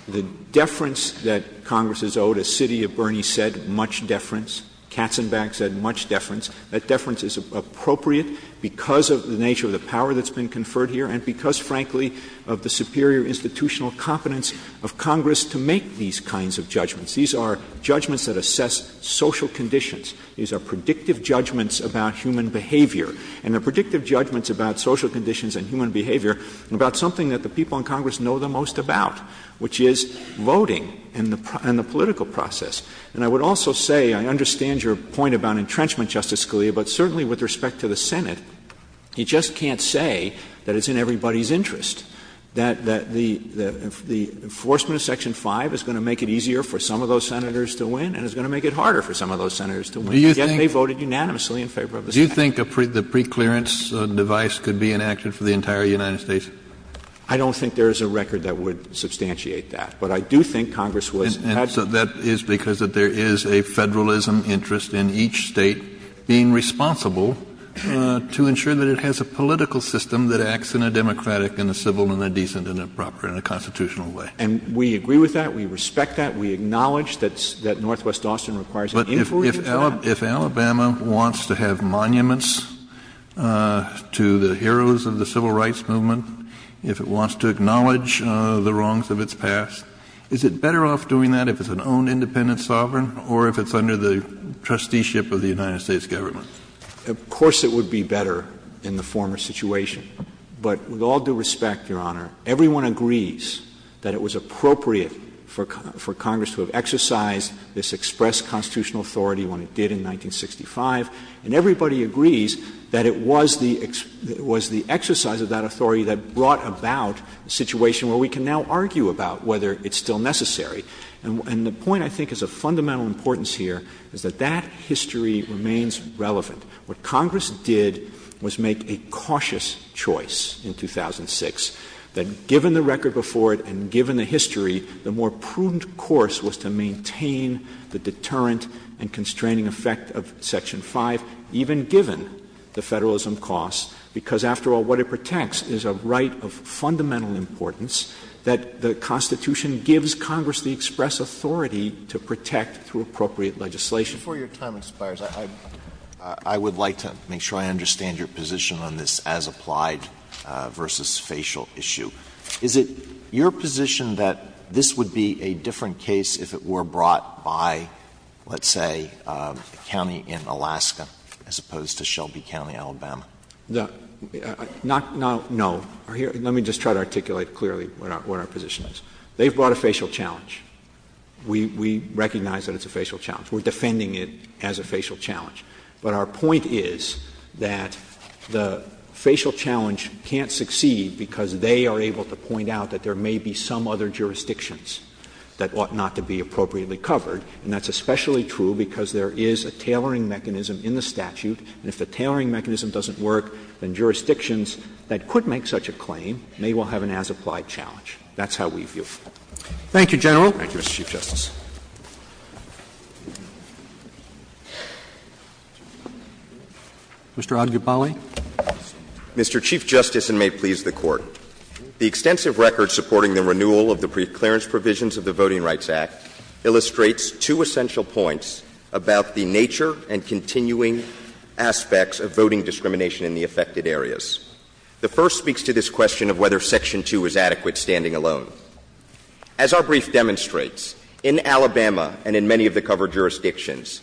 the deference that Congress is owed, as City of Bernie said, much deference, Katzenbach said much deference, that deference is appropriate because of the nature of the power that's been conferred here and because, frankly, of the superior institutional competence of Congress to make these kinds of judgments. These are judgments that assess social conditions. These are predictive judgments about human behavior. And they're predictive judgments about social conditions and human behavior and about something that the people in Congress know the most about, which is voting and the political process. And I would also say, I understand your point about entrenchment, Justice Scalia, but certainly with respect to the Senate, he just can't say that it's in everybody's interest, that the enforcement of Section 5 is going to make it easier for some of those senators to win and it's going to make it harder for some of those senators to win. Again, they voted unanimously in favor of it. Do you think the preclearance device could be in action for the entire United States? I don't think there is a record that would substantiate that. And so that is because there is a federalism interest in each state being responsible to ensure that it has a political system that acts in a democratic and a civil and a decent and a proper and a constitutional way. And we agree with that. We respect that. We acknowledge that Northwest Austin requires an inquiry. If Alabama wants to have monuments to the heroes of the civil rights movement, if it wants to acknowledge the wrongs of its past, is it better off doing that if it's an own independent sovereign or if it's under the trusteeship of the United States government? Of course it would be better in the former situation. But with all due respect, Your Honor, everyone agrees that it was appropriate for Congress to have exercised this express constitutional authority when it did in 1965. And everybody agrees that it was the exercise of that authority that brought about a situation where we can now argue about whether it's still necessary. And the point, I think, is of fundamental importance here is that that history remains relevant. What Congress did was make a cautious choice in 2006 that, given the record before it and given the history, the more prudent course was to maintain the deterrent and constraining effect of Section 5, even given the federalism costs. Because, after all, what it protects is a right of fundamental importance that the Constitution gives Congress the express authority to protect through appropriate legislation. Before your time expires, I would like to make sure I understand your position on this as applied versus facial issue. Is it your position that this would be a different case if it were brought by, let's say, a county in Alaska as opposed to Shelby County, Alabama? No. Let me just try to articulate clearly what our position is. They've brought a facial challenge. We recognize that it's a facial challenge. We're defending it as a facial challenge. But our point is that the facial challenge can't succeed because they are able to point out that there may be some other jurisdictions that ought not to be appropriately covered. And that's especially true because there is a tailoring mechanism in the statute. And if the tailoring mechanism doesn't work, then jurisdictions that could make such a claim may well have an as-applied challenge. That's how we view it. Thank you, General. Thank you, Mr. Chief Justice. Mr. Algibale. Mr. Chief Justice, and may it please the Court, the extensive record supporting the renewal of the brief clearance provisions of the Voting Rights Act illustrates two essential points about the nature and continuing aspects of voting discrimination in the affected areas. The first speaks to this question of whether Section 2 is adequate standing alone. As our brief demonstrates, in Alabama and in many of the covered jurisdictions,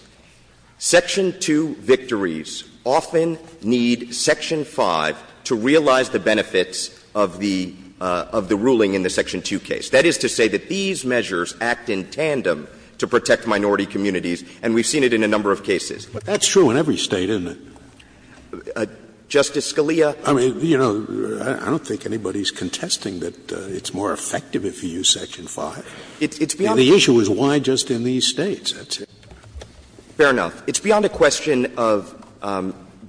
Section 2 victories often need Section 5 to realize the benefits of the ruling in the Section 2 case. That is to say that these measures act in tandem to protect minority communities, and we've seen it in a number of cases. But that's true in every state, isn't it? Justice Scalia? I mean, you know, I don't think anybody's contesting that it's more effective if you use Section 5. The issue is why just in these states. Fair enough. It's beyond a question of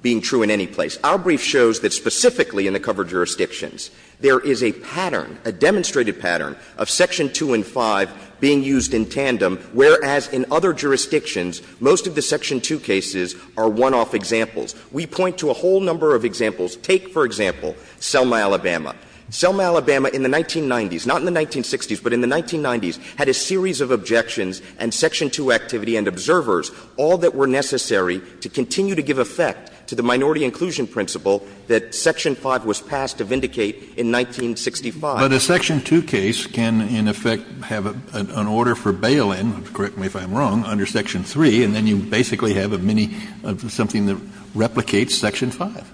being true in any place. Our brief shows that specifically in the covered jurisdictions, there is a pattern, a demonstrated pattern, of Section 2 and 5 being used in tandem, whereas in other jurisdictions, most of the Section 2 cases are one-off examples. We point to a whole number of examples. Take, for example, Selma, Alabama. Selma, Alabama in the 1990s, not in the 1960s, but in the 1990s, had a series of objections and Section 2 activity and observers, all that were necessary to continue to give effect to the minority inclusion principle that Section 5 was passed to vindicate in 1965. But a Section 2 case can, in effect, have an order for bail-in, correct me if I'm wrong, under Section 3, and then you basically have something that replicates Section 5.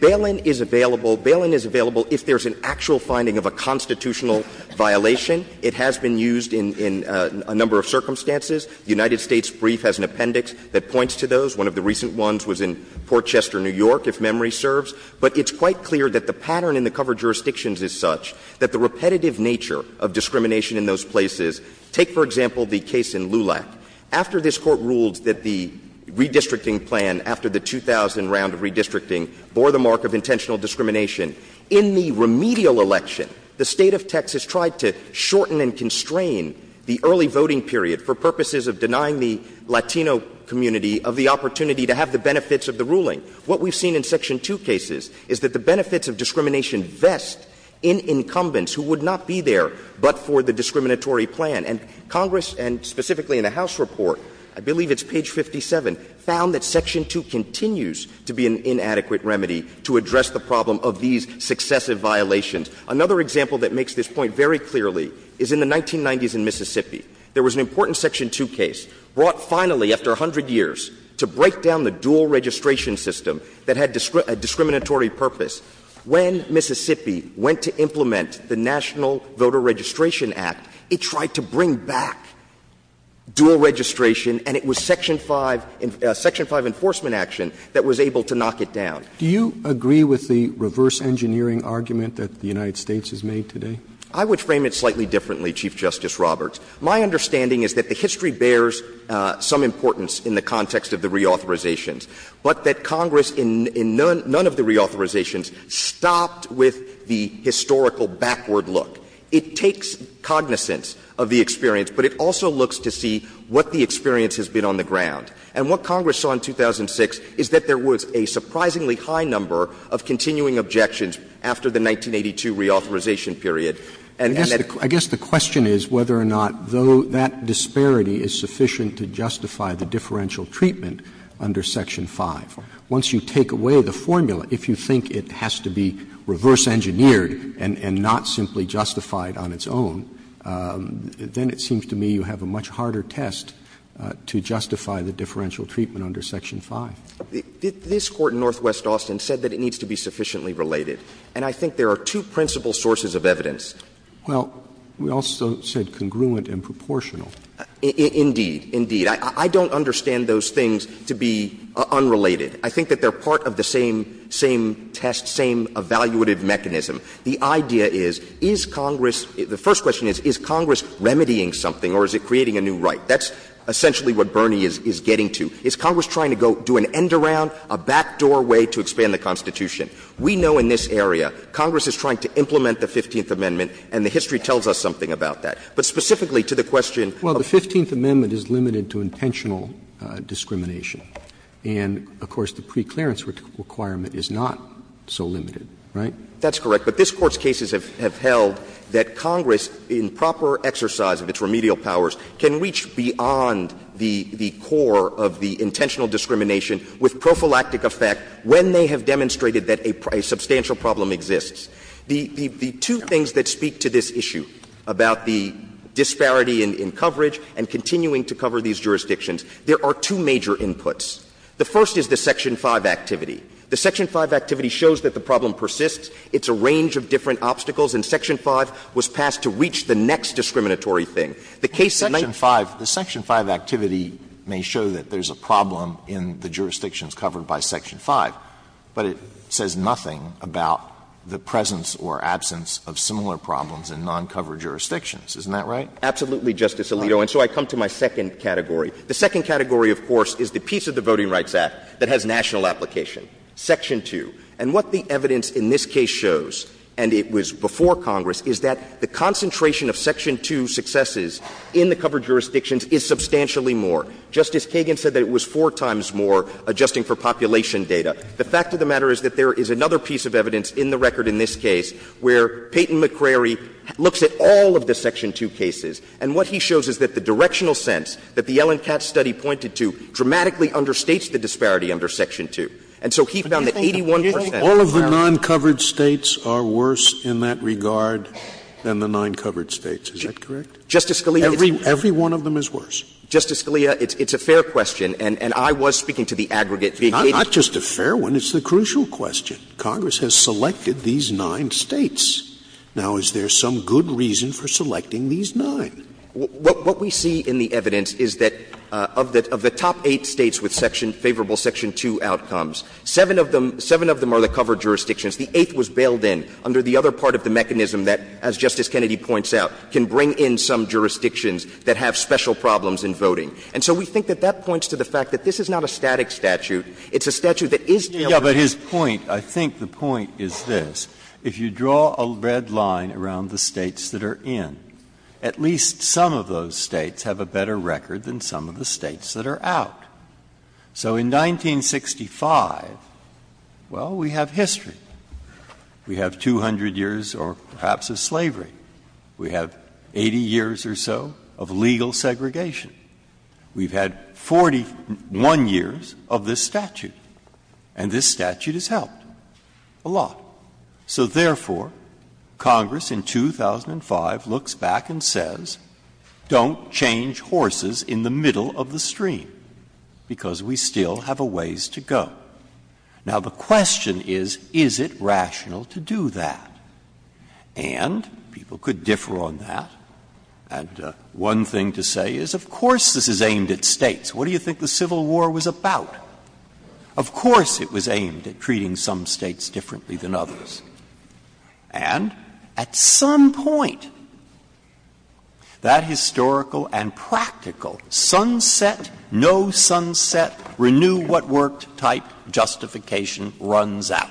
Bail-in is available. Bail-in is available if there's an actual finding of a constitutional violation. It has been used in a number of circumstances. The United States brief has an appendix that points to those. One of the recent ones was in Fort Chester, New York, if memory serves. But it's quite clear that the pattern in the covered jurisdictions is such that the repetitive nature of discrimination in those places, take, for example, the case in Lulac. After this Court ruled that the redistricting plan, after the 2000 round of redistricting, bore the mark of intentional discrimination, in the remedial election, the state of Texas tried to shorten and constrain the early voting period for purposes of denying the Latino community of the opportunity to have the benefits of the ruling. What we've seen in Section 2 cases is that the benefits of discrimination vest in incumbents who would not be there but for the discriminatory plan. And Congress, and specifically in the House report, I believe it's page 57, found that Section 2 continues to be an inadequate remedy to address the problem of these successive violations. Another example that makes this point very clearly is in the 1990s in Mississippi. There was an important Section 2 case brought finally after 100 years to break down the dual registration system that had a discriminatory purpose. When Mississippi went to implement the National Voter Registration Act, it tried to bring back dual registration, and it was Section 5 enforcement action that was able to knock it down. Do you agree with the reverse engineering argument that the United States has made today? I would frame it slightly differently, Chief Justice Roberts. My understanding is that the history bears some importance in the context of the reauthorizations, but that Congress in none of the reauthorizations stopped with the historical backward look. It takes cognizance of the experience, but it also looks to see what the experience has been on the ground. And what Congress saw in 2006 is that there was a surprisingly high number of continuing objections after the 1982 reauthorization period. I guess the question is whether or not that disparity is sufficient to justify the differential treatment under Section 5. Once you take away the formula, if you think it has to be reverse engineered and not simply justified on its own, then it seems to me you have a much harder test to justify the differential treatment under Section 5. This Court in Northwest Austin said that it needs to be sufficiently related, and I think there are two principal sources of evidence. Indeed. Indeed. I don't understand those things to be unrelated. I think that they're part of the same test, same evaluative mechanism. The idea is, is Congress — the first question is, is Congress remedying something or is it creating a new right? That's essentially what Bernie is getting to. Is Congress trying to go do an end-around, a back-door way to expand the Constitution? We know in this area Congress is trying to implement the 15th Amendment, and the history tells us something about that. But specifically to the question — Well, the 15th Amendment is limited to intentional discrimination. And, of course, the preclearance requirement is not so limited, right? That's correct. But this Court's cases have held that Congress, in proper exercise of its remedial powers, can reach beyond the core of the intentional discrimination with prophylactic effect when they have demonstrated that a substantial problem exists. The two things that speak to this issue about the disparity in coverage and continuing to cover these jurisdictions, there are two major inputs. The first is the Section 5 activity. The Section 5 activity shows that the problem persists. It's a range of different obstacles, and Section 5 was passed to reach the next discriminatory thing. The case — Section 5 — the Section 5 activity may show that there's a problem in the jurisdictions covered by Section 5, but it says nothing about the presence or absence of similar problems in non-covered jurisdictions. Isn't that right? Absolutely, Justice Alito. And so I come to my second category. The second category, of course, is the piece of the Voting Rights Act that has national application, Section 2. And what the evidence in this case shows, and it was before Congress, is that the concentration of Section 2 successes in the covered jurisdictions is substantially more. Justice Kagan said that it was four times more, adjusting for population data. The fact of the matter is that there is another piece of evidence in the record in this case where Peyton McCrary looks at all of the Section 2 cases, and what he shows is that the directional sense that the Ellen Katz study pointed to dramatically understates the disparity under Section 2. And so he found that 81 percent — All of the non-covered states are worse in that regard than the non-covered states. Is that correct? Justice Scalia — Every one of them is worse. Justice Scalia, it's a fair question, and I was speaking to the aggregate. Not just a fair one. It's a crucial question. Congress has selected these nine states. Now, is there some good reason for selecting these nine? What we see in the evidence is that of the top eight states with favorable Section 2 outcomes, seven of them are the covered jurisdictions. The eighth was bailed in under the other part of the mechanism that, as Justice Kennedy points out, can bring in some jurisdictions that have special problems in voting. And so we think that that points to the fact that this is not a static statute. It's a statute that is — Yeah, but his point — I think the point is this. If you draw a red line around the states that are in, at least some of those states have a better record than some of the states that are out. So in 1965, well, we have history. We have 200 years or perhaps of slavery. We have 80 years or so of legal segregation. We've had 41 years of this statute, and this statute has helped a lot. So therefore, Congress in 2005 looks back and says, don't change horses in the middle of the stream because we still have a ways to go. Now, the question is, is it rational to do that? And people could differ on that. And one thing to say is, of course this is aimed at states. What do you think the Civil War was about? Of course it was aimed at treating some states differently than others. And at some point, that historical and practical sunset, no sunset, renew what worked type justification runs out.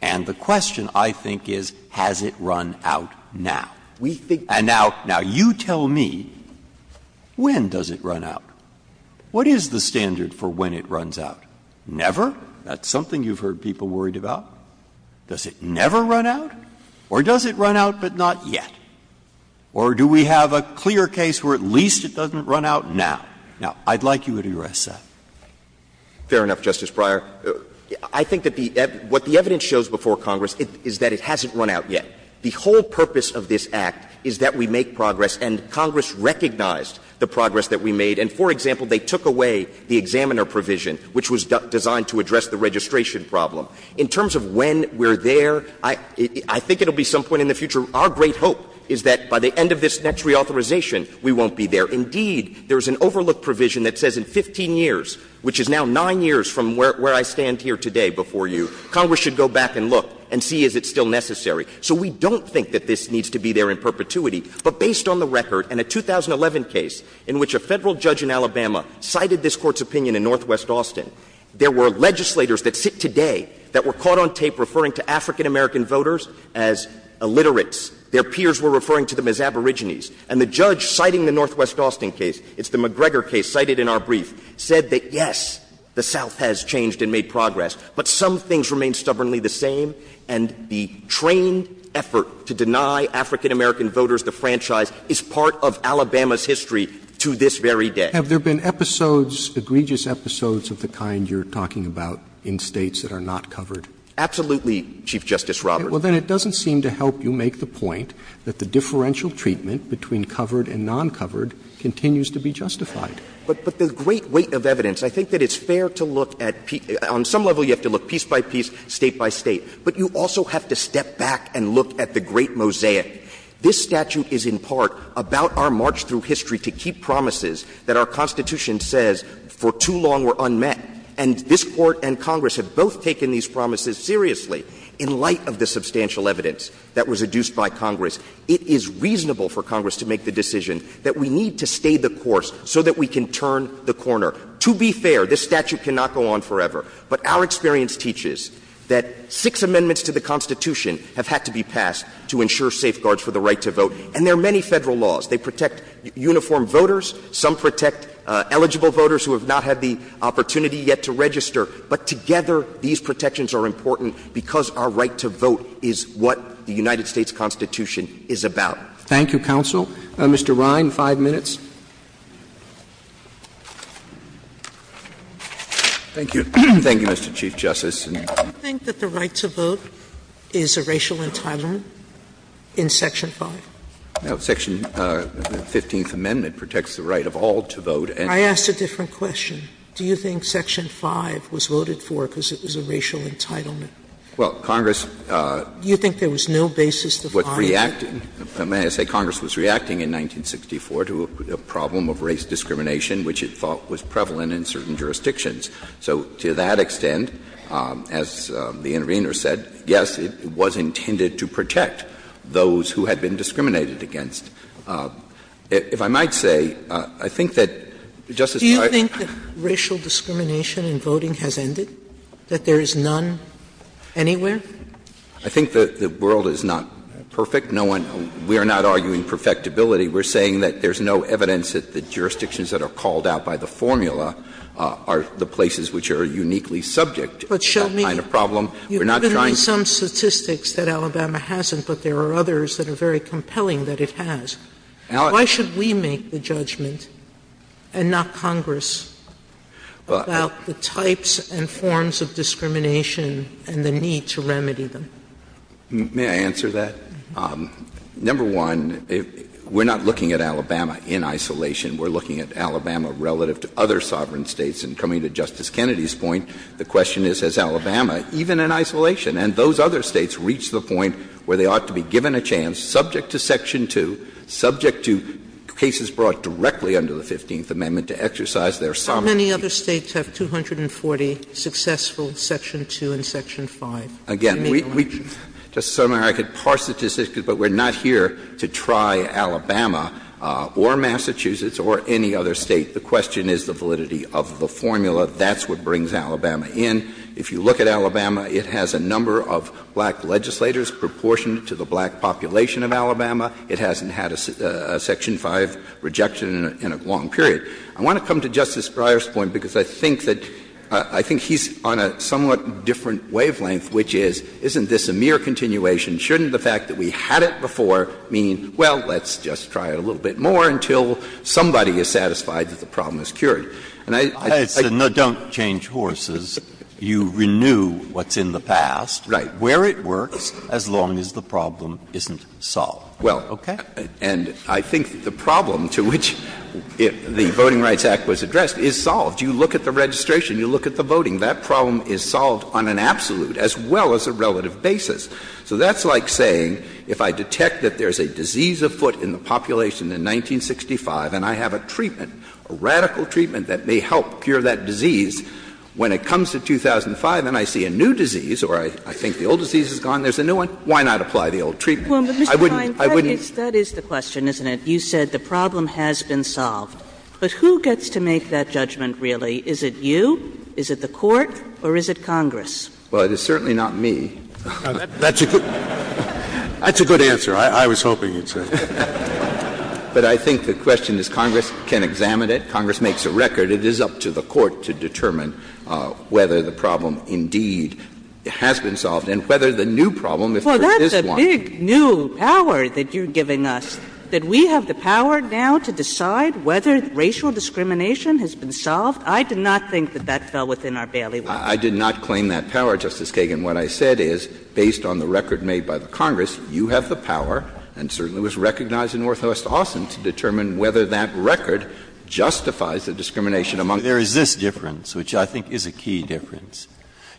And the question, I think, is has it run out now? And now you tell me, when does it run out? What is the standard for when it runs out? Never? That's something you've heard people worried about. Does it never run out? Or does it run out but not yet? Or do we have a clear case where at least it doesn't run out now? Now, I'd like you to address that. Fair enough, Justice Breyer. I think that what the evidence shows before Congress is that it hasn't run out yet. The whole purpose of this act is that we make progress, and Congress recognized the progress that we made. And, for example, they took away the examiner provision, which was designed to address the registration problem. In terms of when we're there, I think it will be some point in the future. Our great hope is that by the end of this next reauthorization, we won't be there. Indeed, there's an overlook provision that says in 15 years, which is now nine years from where I stand here today before you, Congress should go back and look and see if it's still necessary. So we don't think that this needs to be there in perpetuity. But based on the record, in a 2011 case in which a federal judge in Alabama cited this court's opinion in Northwest Austin, there were legislators that sit today that were caught on tape referring to African American voters as illiterates. Their peers were referring to them as aborigines. And the judge citing the Northwest Austin case, it's the McGregor case cited in our brief, said that yes, the South has changed and made progress, but some things remain stubbornly the same, and the trained effort to deny African American voters the franchise is part of Alabama's history to this very day. Have there been egregious episodes of the kind you're talking about in states that are not covered? Absolutely, Chief Justice Roberts. Well, then it doesn't seem to help you make the point that the differential treatment between covered and non-covered continues to be justified. But the great weight of evidence, I think that it's fair to look at, on some level you have to look piece by piece, state by state, but you also have to step back and look at the great mosaic. This statute is in part about our march through history to keep promises that our Constitution says for too long were unmet. And this Court and Congress have both taken these promises seriously in light of the substantial evidence that was adduced by Congress. It is reasonable for Congress to make the decision that we need to stay the course so that we can turn the corner. To be fair, this statute cannot go on forever, but our experience teaches that six amendments to the Constitution have had to be passed to ensure safeguards for the right to vote, and there are many federal laws. They protect uniform voters, some protect eligible voters who have not had the opportunity yet to register, but together these protections are important because our right to vote is what the United States Constitution is about. Thank you, counsel. Mr. Ryan, five minutes. Thank you. Thank you, Mr. Chief Justice. Do you think that the right to vote is a racial entitlement in Section 5? Section 15th Amendment protects the right of all to vote. I asked a different question. Do you think Section 5 was voted for because it was a racial entitlement? Well, Congress... May I say Congress was reacting in 1964 to a problem of race discrimination which it thought was prevalent in certain jurisdictions. So to that extent, as the intervener said, yes, it was intended to protect those who had been discriminated against. If I might say, I think that Justice Breyer... Do you think that racial discrimination in voting has ended, that there is none anywhere? I think the world is not perfect. We're not arguing perfectibility. We're saying that there's no evidence that the jurisdictions that are called out by the formula are the places which are uniquely subject to that kind of problem. You've been on some statistics that Alabama hasn't, but there are others that are very compelling that it has. Why should we make the judgment and not Congress about the types and forms of discrimination and the need to remedy them? May I answer that? Number one, we're not looking at Alabama in isolation. We're looking at Alabama relative to other sovereign states. And coming to Justice Kennedy's point, the question is, has Alabama, even in isolation, and those other states, reached the point where they ought to be given a chance, subject to Section 2, subject to cases brought directly under the 15th Amendment to exercise their sovereign... How many other states have 240 successful Section 2 and Section 5? Again, Justice Sotomayor, I could parse statistics, but we're not here to try Alabama or Massachusetts or any other state. The question is the validity of the formula. That's what brings Alabama in. If you look at Alabama, it has a number of black legislators proportioned to the black population of Alabama. It hasn't had a Section 5 rejection in a long period. I want to come to Justice Greyer's point, because I think he's on a somewhat different wavelength, which is, isn't this a mere continuation? Shouldn't the fact that we had it before mean, well, let's just try a little bit more until somebody is satisfied that the problem is cured? And I... I said, no, don't change horses. You renew what's in the past... Right. ...where it works, as long as the problem isn't solved. Well... Okay. And I think the problem to which the Voting Rights Act was addressed is solved. You look at the registration. You look at the voting. That problem is solved on an absolute as well as a relative basis. So that's like saying, if I detect that there's a disease afoot in the population in 1965 and I have a treatment, a radical treatment that may help cure that disease, when it comes to 2005 and I see a new disease, or I think the old disease is gone, there's a new one, why not apply the old treatment? Well, Mr. Klein, that is the question, isn't it? You said the problem has been solved. But who gets to make that judgment, really? Is it you? Is it the court? Or is it Congress? Well, it is certainly not me. That's a good answer. I was hoping you'd say that. But I think the question is Congress can examine it. Congress makes a record. It is up to the court to determine whether the problem indeed has been solved and whether the new problem, if there is one... Well, that's a big new power that you're giving us, that we have the power now to decide whether racial discrimination has been solved. I did not think that that fell within our bailiwick. I did not claim that power, Justice Kagan. What I said is, based on the record made by the Congress, you have the power and certainly was recognized in Northwest Austin to determine whether that record justifies the discrimination among... There is this difference, which I think is a key difference.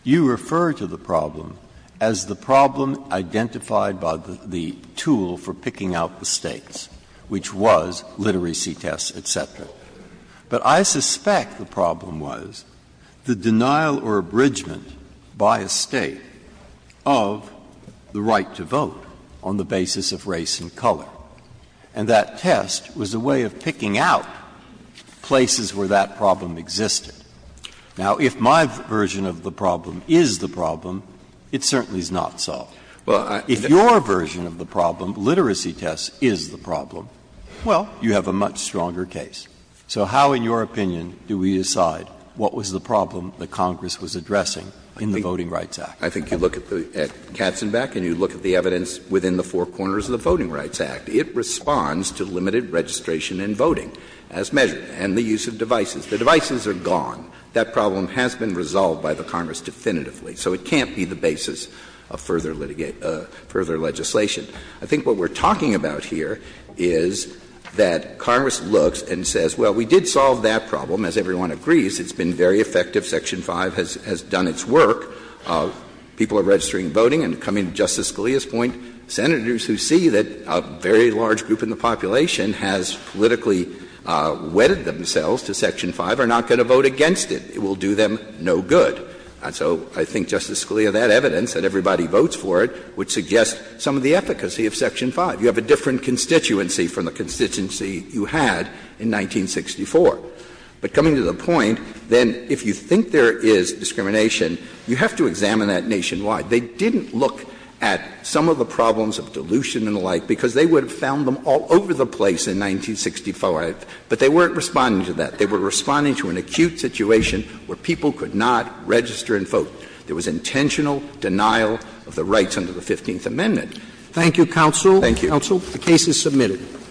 You refer to the problem as the problem identified by the tool for picking out the states, which was literacy tests, et cetera. But I suspect the problem was the denial or abridgment by a state of the right to vote on the basis of race and color. And that test was a way of picking out places where that problem existed. Now, if my version of the problem is the problem, it certainly is not solved. If your version of the problem, literacy tests, is the problem, well, you have a much stronger case. So how, in your opinion, do we decide what was the problem that Congress was addressing in the Voting Rights Act? I think you look at Katzenbach and you look at the evidence within the four corners of the Voting Rights Act. It responds to limited registration and voting as measured and the use of devices. The devices are gone. That problem has been resolved by the Congress definitively. So it can't be the basis of further legislation. I think what we're talking about here is that Congress looks and says, well, we did solve that problem, as everyone agrees. It's been very effective. Section 5 has done its work. People are registering voting and coming to Justice Scalia's point, Senators who see that a very large group in the population has politically wedded themselves to Section 5 are not going to vote against it. It will do them no good. And so I think Justice Scalia, that evidence, that everybody votes for it, would suggest some of the efficacy of Section 5. You have a different constituency from the constituency you had in 1964. But coming to the point, then, if you think there is discrimination, you have to examine that nationwide. They didn't look at some of the problems of dilution and the like because they would have found them all over the place in 1965, but they weren't responding to that. They were responding to an acute situation where people could not register and vote. There was intentional denial of the rights under the 15th Amendment. Thank you, Counsel. Thank you. Counsel, the case is submitted.